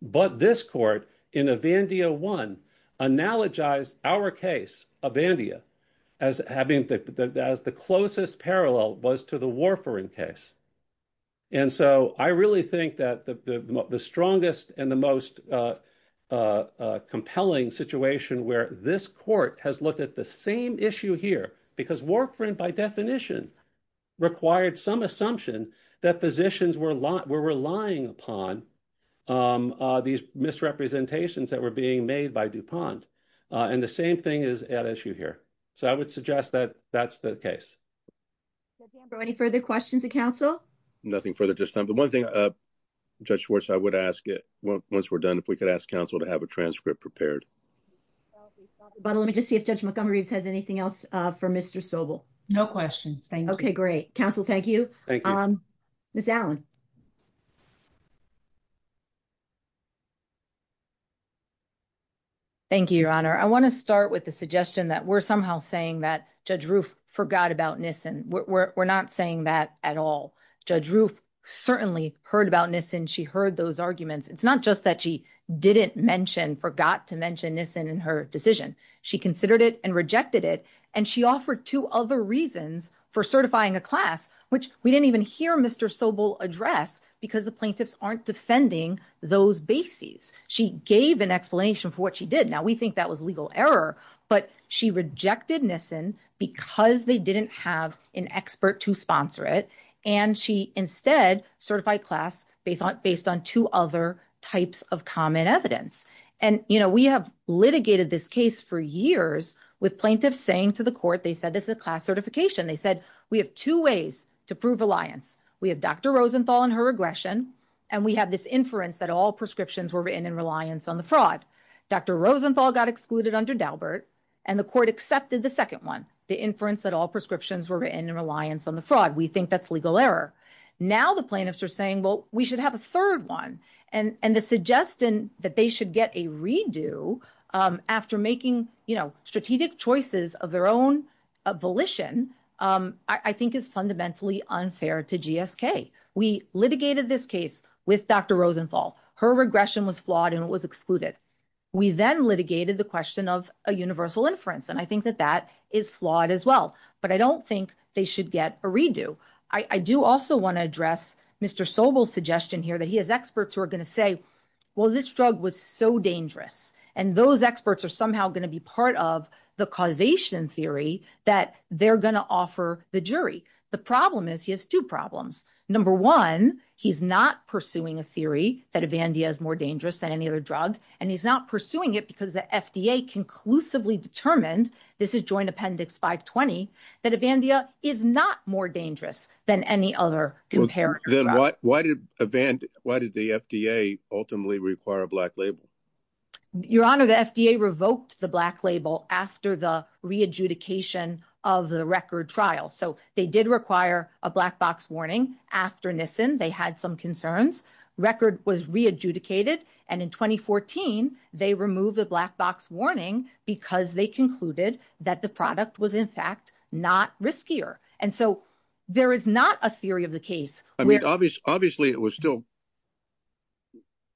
but this court in Avandia One, analogized our case, Avandia, as having the closest parallel was to the Warfarin case. And so I really think that the strongest and the most compelling situation where this court has looked at the same issue here, because Warfarin by definition, required some assumption that physicians were relying upon these misrepresentations that were being made by DuPont. And the same thing is at issue here. So I would suggest that that's the case. Well, Danborough, any further questions of counsel? Nothing further at this time. The one thing, Judge Schwartz, I would ask it once we're done, if we could ask counsel to have a transcript prepared. But let me just see if Judge Montgomery has anything else for Mr. Sobel. No questions. Thank you. Okay, great. Counsel, thank you. Ms. Allen. Thank you, Your Honor. I wanna start with the suggestion that we're somehow saying that Judge Roof forgot about Nissen. We're not saying that at all. Judge Roof certainly heard about Nissen. She heard those arguments. It's not just that she didn't mention, forgot to mention Nissen in her decision. She considered it and rejected it. And she offered two other reasons for certifying a class, which we didn't even hear Mr. Sobel address because the plaintiffs aren't defending those bases. She gave an explanation for what she did. Now, we think that was legal error, but she rejected Nissen because they didn't have an expert to sponsor it. And she instead certified class based on two other types of common evidence. And we have litigated this case for years with plaintiffs saying to the court, they said, this is a class certification. They said, we have two ways to prove alliance. We have Dr. Rosenthal and her aggression. And we have this inference that all prescriptions were written in reliance on the fraud. Dr. Rosenthal got excluded under Daubert and the court accepted the second one, the inference that all prescriptions were written in reliance on the fraud. We think that's legal error. Now the plaintiffs are saying, well, we should have a third one. And the suggestion that they should get a redo after making strategic choices of their own volition, I think is fundamentally unfair to GSK. We litigated this case with Dr. Rosenthal. Her regression was flawed and it was excluded. We then litigated the question of a universal inference. And I think that that is flawed as well, but I don't think they should get a redo. I do also wanna address Mr. Sobel's suggestion here that he has experts who are gonna say, well, this drug was so dangerous and those experts are somehow gonna be part of the causation theory that they're gonna offer the jury. The problem is he has two problems. Number one, he's not pursuing a theory that Avandia is more dangerous than any other drug. And he's not pursuing it because the FDA conclusively determined, this is Joint Appendix 520, that Avandia is not more dangerous than any other comparator drug. Then why did the FDA ultimately require a black label? Your Honor, the FDA revoked the black label after the re-adjudication of the record trial. So they did require a black box warning after Nissen. They had some concerns. Record was re-adjudicated. And in 2014, they removed the black box warning because they concluded that the product was in fact not riskier. And so there is not a theory of the case. I mean, obviously it was still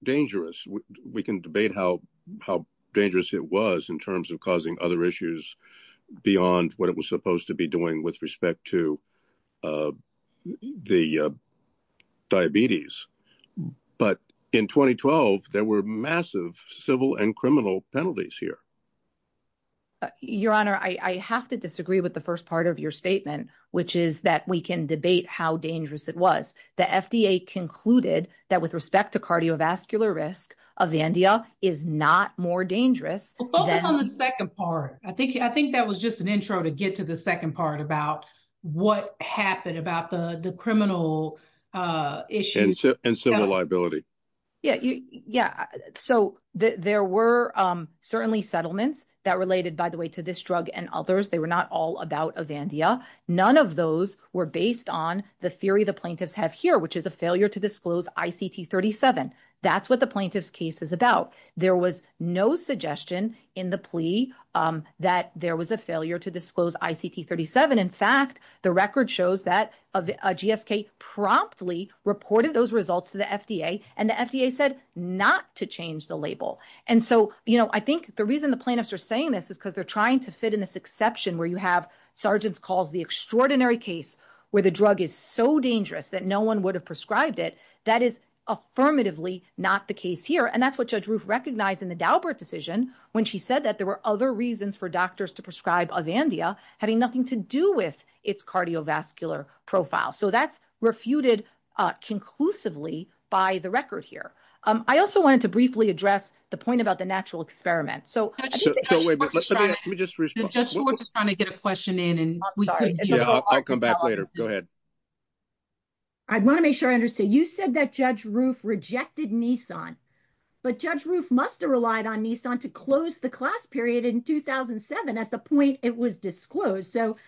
dangerous. We can debate how dangerous it was in terms of causing other issues beyond what it was supposed to be doing with respect to the diabetes. But in 2012, there were massive civil and criminal penalties here. Your Honor, I have to disagree with the first part of your statement, which is that we can debate how dangerous it was. The FDA concluded that with respect to cardiovascular risk, Avandia is not more dangerous. Well, focus on the second part. I think that was just an intro to get to the second part about what happened about the criminal issues. And civil liability. Yeah, so there were certainly settlements that related, by the way, to this drug and others. They were not all about Avandia. None of those were based on the theory the plaintiffs have here, which is a failure to disclose ICT 37. That's what the plaintiff's case is about. There was no suggestion in the plea that there was a failure to disclose ICT 37. In fact, the record shows that GSK promptly reported those results to the FDA, and the FDA said not to change the label. And so I think the reason the plaintiffs are saying this is because they're trying to fit in this exception where you have, Sargent's calls, the extraordinary case where the drug is so dangerous that no one would have prescribed it. That is affirmatively not the case here. And that's what Judge Roof recognized in the Daubert decision when she said that there were other reasons for doctors to prescribe Avandia having nothing to do with its cardiovascular profile. So that's refuted conclusively by the record here. I also wanted to briefly address the point about the natural experiment. So let me just respond. Judge Schwartz is trying to get a question in. I'm sorry. Yeah, I'll come back later. Go ahead. I want to make sure I understand. You said that Judge Roof rejected Nissan. But Judge Roof must have relied on Nissan to close the class period in 2007 at the point it was disclosed. So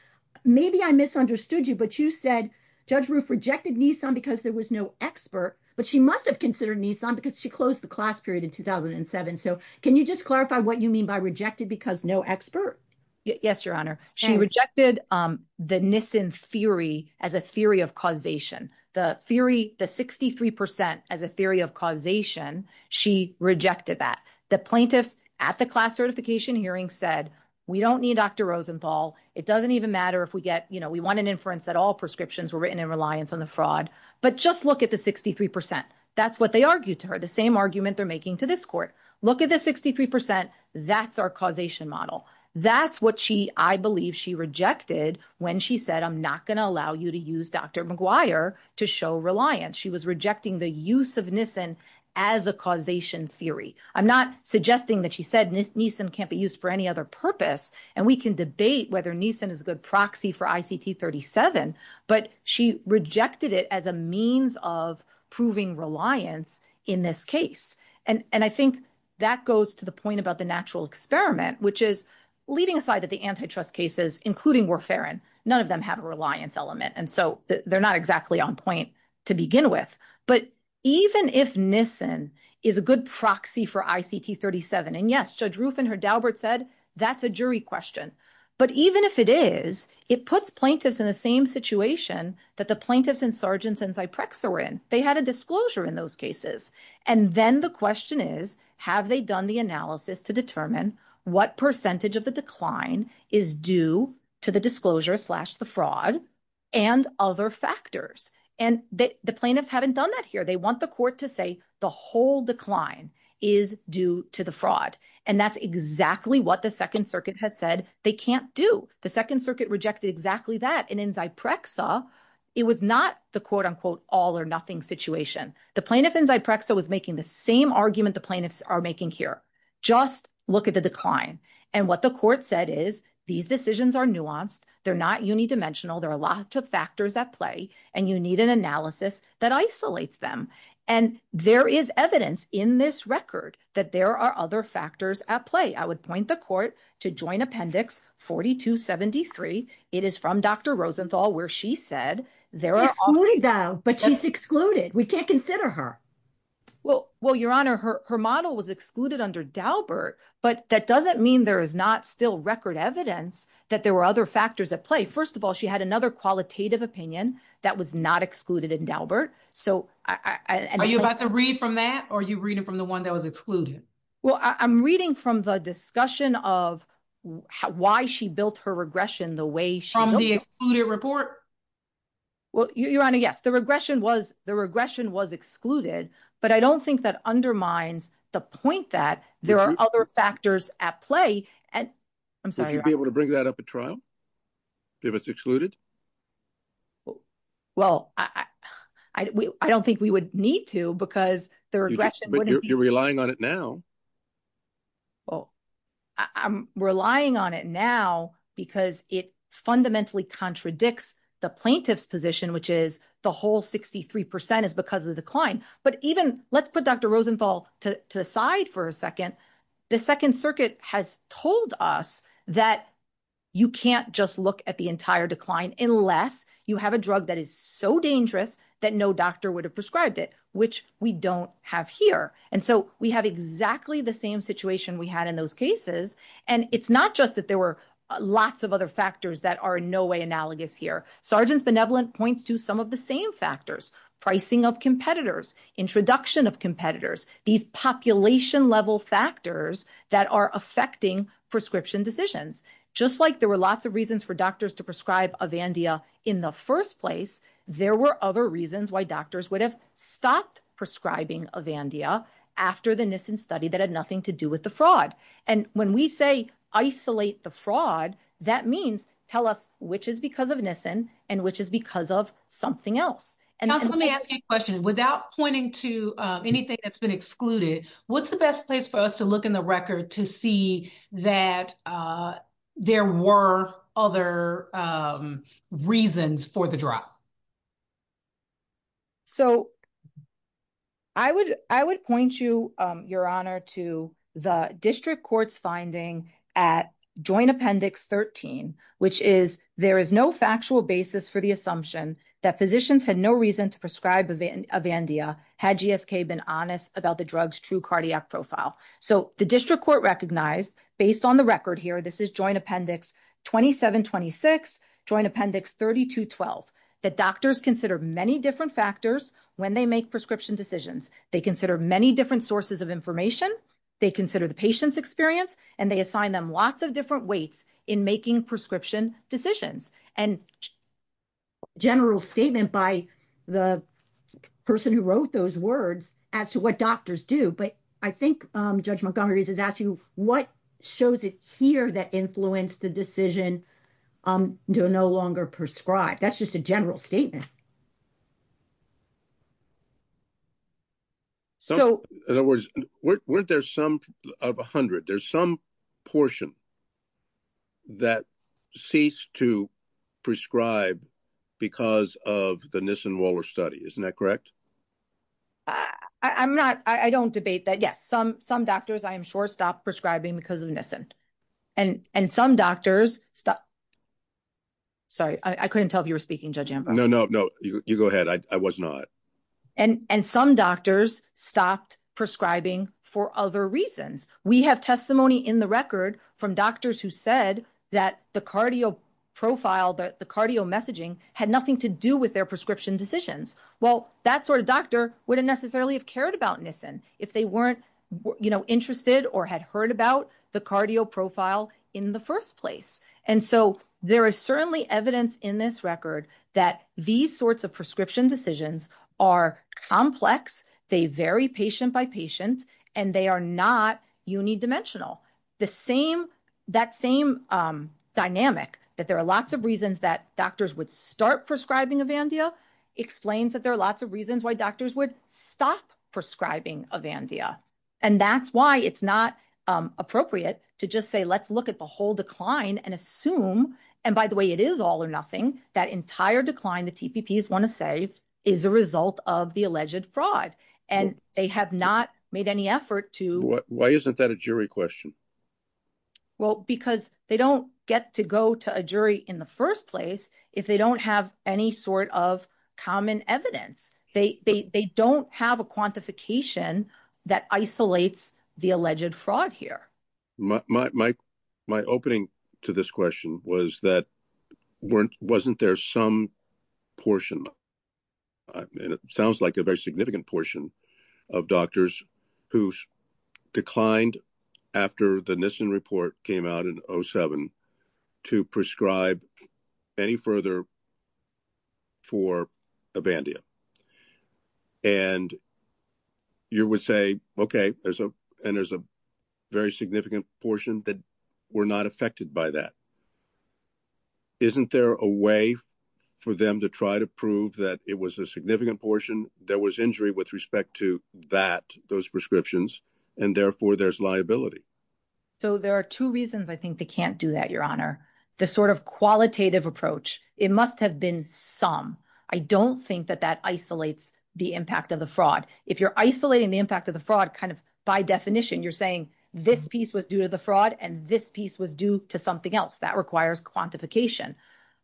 maybe I misunderstood you, but you said Judge Roof rejected Nissan because there was no expert, but she must have considered Nissan because she closed the class period in 2007. So can you just clarify what you mean by rejected because no expert? Yes, Your Honor. She rejected the Nissan theory as a theory of causation. The theory, the 63% as a theory of causation, she rejected that. The plaintiffs at the class certification hearing said, we don't need Dr. Rosenthal. It doesn't even matter if we get, you know, we want an inference that all prescriptions were written in reliance on the fraud. But just look at the 63%. That's what they argued to her. The same argument they're making to this court. Look at the 63%. That's our causation model. That's what she, I believe, she rejected when she said, I'm not going to allow you to use Dr. Maguire to show reliance. She was rejecting the use of Nissan as a causation theory. I'm not suggesting that she said Nissan can't be used for any other purpose. And we can debate whether Nissan is a good proxy for ICT 37, but she rejected it as a means of proving reliance in this case. And I think that goes to the point about the natural experiment, which is leaving aside that the antitrust cases, including Warfarin, none of them have a reliance element. And so they're not exactly on point to begin with. But even if Nissan is a good proxy for ICT 37, and yes, Judge Rufin heard Dalbert said, that's a jury question. But even if it is, it puts plaintiffs in the same situation that the plaintiffs and sergeants and Zyprexa were in. They had a disclosure in those cases. And then the question is, have they done the analysis to determine what percentage of the decline is due to the disclosure slash the fraud and other factors? And the plaintiffs haven't done that here. They want the court to say the whole decline is due to the fraud. And that's exactly what the Second Circuit has said they can't do. The Second Circuit rejected exactly that. And in Zyprexa, it was not the quote unquote all or nothing situation. The plaintiff in Zyprexa was making the same argument the plaintiffs are making here. Just look at the decline. And what the court said is, these decisions are nuanced. They're not unidimensional. There are lots of factors at play. And you need an analysis that isolates them. And there is evidence in this record that there are other factors at play. I would point the court to Joint Appendix 4273. It is from Dr. Rosenthal, where she said there are- Excluded, though. But she's excluded. We can't consider her. Well, Your Honor, her model was excluded under Daubert. But that doesn't mean there is not still record evidence that there were other factors at play. First of all, she had another qualitative opinion that was not excluded in Daubert. So I- Are you about to read from that? Or are you reading from the one that was excluded? Well, I'm reading from the discussion of why she built her regression the way she- From the excluded report? Well, Your Honor, yes. The regression was excluded. But I don't think that undermines the point that there are other factors at play. And- Would you be able to bring that up at trial? If it's excluded? Well, I don't think we would need to because the regression wouldn't be- You're relying on it now. Well, I'm relying on it now because it fundamentally contradicts the plaintiff's position, which is the whole 63% is because of the decline. But even- Let's put Dr. Rosenthal to the side for a second. The Second Circuit has told us that you can't just look at the entire decline unless you have a drug that is so dangerous that no doctor would have prescribed it, which we don't have here. And so we have exactly the same situation we had in those cases. And it's not just that there were lots of other factors that are in no way analogous here. Sargent's Benevolent points to some of the same factors, pricing of competitors, introduction of competitors, these population level factors that are affecting prescription decisions. Just like there were lots of reasons for doctors to prescribe Avandia in the first place, there were other reasons why doctors would have stopped prescribing Avandia after the Nissen study that had nothing to do with the fraud. And when we say isolate the fraud, that means tell us which is because of Nissen and which is because of something else. Counsel, let me ask you a question. Without pointing to anything that's been excluded, what's the best place for us to look in the record to see that there were other reasons for the drop? So I would point you, Your Honor, to the district court's finding at Joint Appendix 13, which is there is no factual basis for the assumption that physicians had no reason to prescribe Avandia had GSK been honest about the drug's true cardiac profile. So the district court recognized, based on the record here, this is Joint Appendix 2726, Joint Appendix 3212, that doctors consider many different factors when they make prescription decisions. They consider many different sources of information. They consider the patient's experience and they assign them lots of different weights in making prescription decisions. And general statement by the person who wrote those words as to what doctors do. But I think Judge Montgomery has asked you what shows it here that influenced the decision to no longer prescribe. That's just a general statement. So in other words, weren't there some of 100? There's some portion that ceased to prescribe because of the Nissen-Waller study. Isn't that correct? I'm not, I don't debate that. Yes, some doctors, I am sure, stopped prescribing because of Nissen. And some doctors stopped. Sorry, I couldn't tell if you were speaking, Judge Ambrose. No, no, no, you go ahead. I was not. And some doctors stopped prescribing for other reasons. We have testimony in the record from doctors who said that the cardio profile, that the cardio messaging had nothing to do with their prescription decisions. Well, that sort of doctor wouldn't necessarily have cared about Nissen if they weren't interested or had heard about the cardio profile in the first place. And so there is certainly evidence in this record that these sorts of prescription decisions are complex. They vary patient by patient and they are not unidimensional. The same, that same dynamic, that there are lots of reasons that doctors would start prescribing Avandia explains that there are lots of reasons why doctors would stop prescribing Avandia. And that's why it's not appropriate to just say, let's look at the whole decline and assume, and by the way, it is all or nothing. That entire decline, the TPPs want to say is a result of the alleged fraud and they have not made any effort to. Why isn't that a jury question? Well, because they don't get to go to a jury in the first place if they don't have any sort of common evidence. They don't have a quantification that isolates the alleged fraud here. My opening to this question was that weren't, wasn't there some portion? I mean, it sounds like a very significant portion of doctors who declined after the Nissen report came out in 07 to prescribe any further for Avandia. And you would say, OK, there's a, and there's a very significant portion that we're not affected by that. Isn't there a way for them to try to prove that it was a significant portion? There was injury with respect to that, those prescriptions, and therefore there's liability. So there are two reasons I think they can't do that, Your Honor. The sort of qualitative approach. It must have been some. I don't think that that isolates the impact of the fraud. If you're isolating the impact of the fraud, kind of by definition, you're saying this piece was due to the fraud and this piece was due to something else that requires quantification.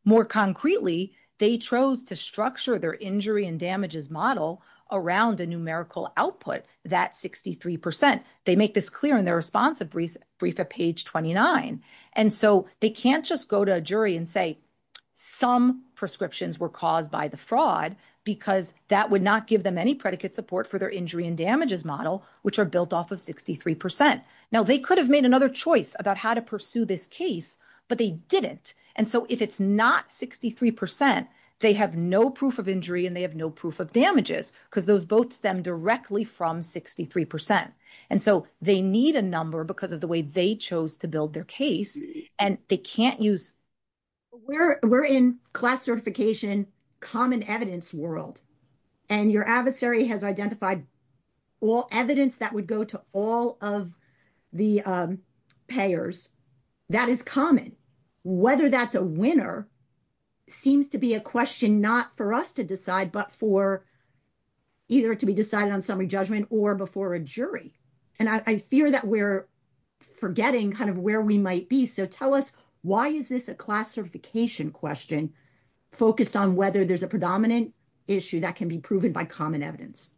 More concretely, they chose to structure their injury and damages model around a numerical output. That 63%. They make this clear in their response of brief at page 29. And so they can't just go to a jury and say some prescriptions were caused by the fraud because that would not give them any predicate support for their injury and damages model, which are built off of 63%. Now they could have made another choice about how to pursue this case, but they didn't. And so if it's not 63%, they have no proof of injury and they have no proof of damages because those both stem directly from 63%. And so they need a number because of the way they chose to build their case and they can't use. We're in class certification, common evidence world, and your adversary has identified all evidence that would go to all of the payers. That is common. Whether that's a winner seems to be a question not for us to decide, but for either to be decided on summary judgment or before a jury. And I fear that we're forgetting kind of where we might be. So tell us why is this a classification question focused on whether there's a predominant issue that can be proven by common evidence?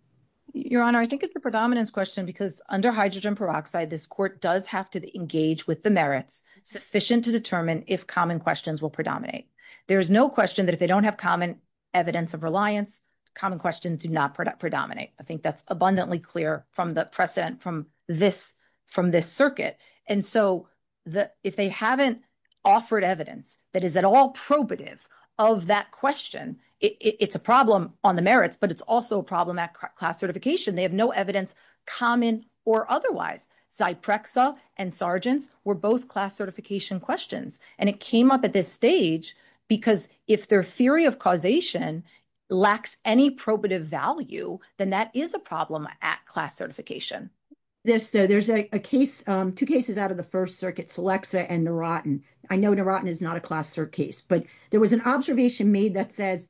Your Honor, I think it's a predominance question because under hydrogen peroxide, this court does have to engage with the merits sufficient to determine if common questions will predominate. There is no question that if they don't have common evidence of reliance, common questions do not predominate. I think that's abundantly clear from the precedent from this circuit. And so if they haven't offered evidence that is at all probative of that question, it's a problem on the merits, but it's also a problem at class certification. They have no evidence common or otherwise. Zyprexa and Sargents were both class certification questions. And it came up at this stage because if their theory of causation lacks any probative value, then that is a problem at class certification. There's a case, two cases out of the first circuit, Selexa and Narotin. I know Narotin is not a class cert case, but there was an observation made that says,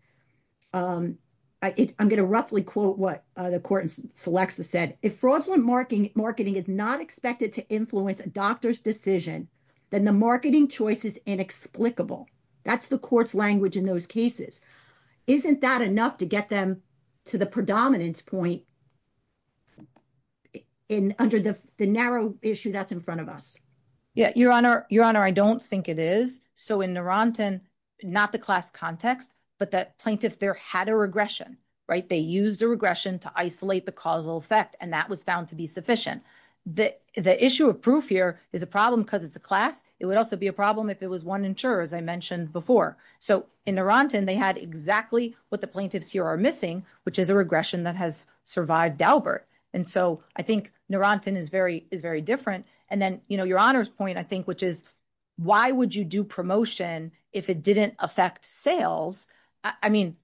I'm going to roughly quote what the court in Selexa said. If fraudulent marketing is not expected to influence a doctor's decision, then the marketing choice is inexplicable. That's the court's language in those cases. Isn't that enough to get them to the predominance point? In under the narrow issue that's in front of us. Yeah, Your Honor, I don't think it is. So in Narotin, not the class context, but that plaintiffs there had a regression, right? They used a regression to isolate the causal effect and that was found to be sufficient. The issue of proof here is a problem because it's a class. It would also be a problem if it was one insurer as I mentioned before. So in Narotin, they had exactly what the plaintiffs here are missing, which is a regression that has survived Daubert. And so I think Narotin is very different. And then Your Honor's point, I think, which is why would you do promotion if it didn't affect sales? I mean,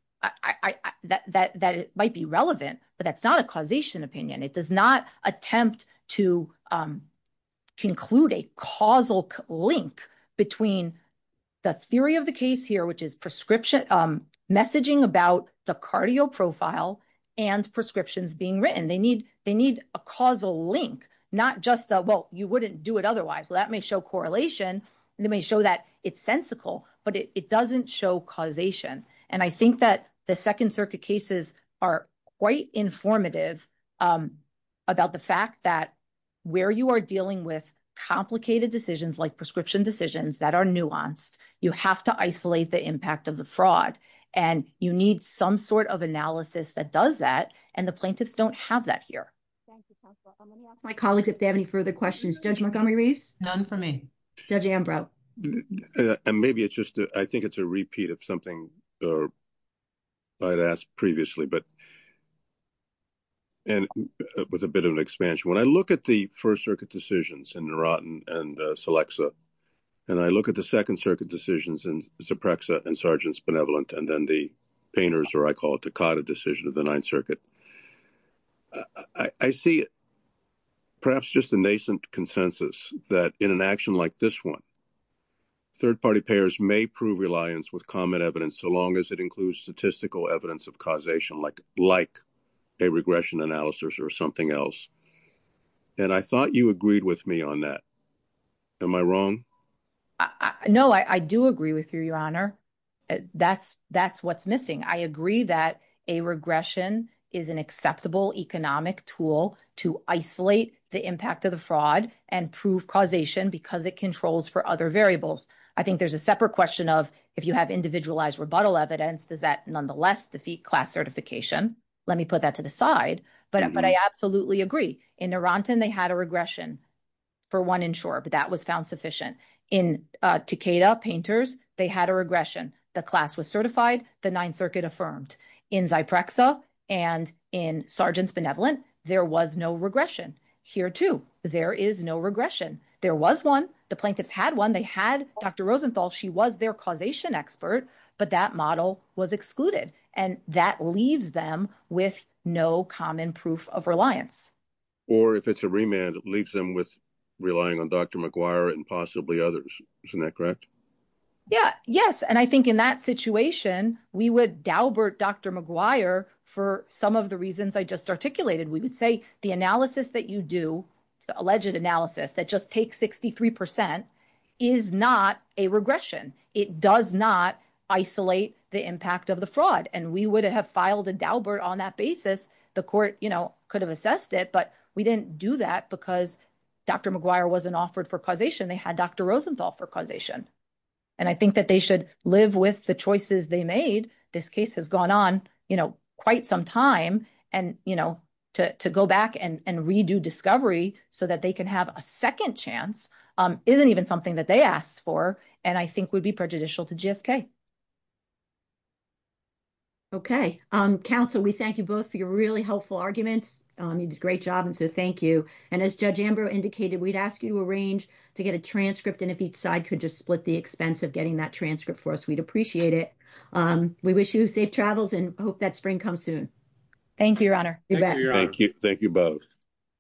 that it might be relevant, but that's not a causation opinion. It does not attempt to conclude a causal link between the theory of the case here, which is prescription messaging about the cardio profile and prescriptions being written. They need a causal link, not just a, well, you wouldn't do it otherwise. Well, that may show correlation. They may show that it's sensical, but it doesn't show causation. And I think that the Second Circuit cases are quite informative about the fact that where you are dealing with complicated decisions like prescription decisions that are nuanced, you have to isolate the impact of the fraud and you need some sort of analysis that does that, and the plaintiffs don't have that here. Thank you, Counselor. I'm going to ask my colleagues if they have any further questions. Judge Montgomery-Reeves? None for me. Judge Ambrow? And maybe it's just, I think it's a repeat of something I'd asked previously, and with a bit of an expansion. When I look at the First Circuit decisions in Nerottin and Selexa, and I look at the Second Circuit decisions in Zeprexa and Sargent's Benevolent, and then the Painter's, I call it, Takata decision of the Ninth Circuit, I see perhaps just a nascent consensus that in an action like this one, third-party payers may prove reliance with common evidence so long as it includes statistical evidence of causation, like a regression analysis or something else. And I thought you agreed with me on that. Am I wrong? No, I do agree with you, Your Honor. That's what's missing. I agree that a regression is an acceptable economic tool to isolate the impact of the fraud and prove causation because it controls for other variables. I think there's a separate question of if you have individualized rebuttal evidence, does that nonetheless defeat class certification? Let me put that to the side. But I absolutely agree. In Nerottin, they had a regression for one insurer, but that was found sufficient. In Takata, Painter's, they had a regression. The class was certified. The Ninth Circuit affirmed. In Zyprexa and in Sargent's Benevolent, there was no regression. Here, too, there is no regression. There was one. The plaintiffs had one. They had Dr. Rosenthal. She was their causation expert, but that model was excluded. And that leaves them with no common proof of reliance. Or if it's a remand, it leaves them with relying on Dr. McGuire and possibly others. Isn't that correct? Yeah, yes. And I think in that situation, we would daubert Dr. McGuire for some of the reasons I just articulated. We would say the analysis that you do, alleged analysis that just takes 63%, is not a regression. It does not isolate the impact of the fraud. And we would have filed a daubert on that basis. The court could have assessed it, but we didn't do that because Dr. McGuire wasn't offered for causation. They had Dr. Rosenthal for causation. And I think that they should live with the choices they made. This case has gone on quite some time and to go back and redo discovery so that they can have a second chance isn't even something that they asked for and I think would be prejudicial to GSK. Okay. Counsel, we thank you both for your really helpful arguments. You did a great job and so thank you. And as Judge Ambrose indicated, we'd ask you to arrange to get a transcript and if each side could just split the expense of getting that transcript for us, we'd appreciate it. We wish you safe travels and hope that spring comes soon. Thank you, Your Honor. Thank you both.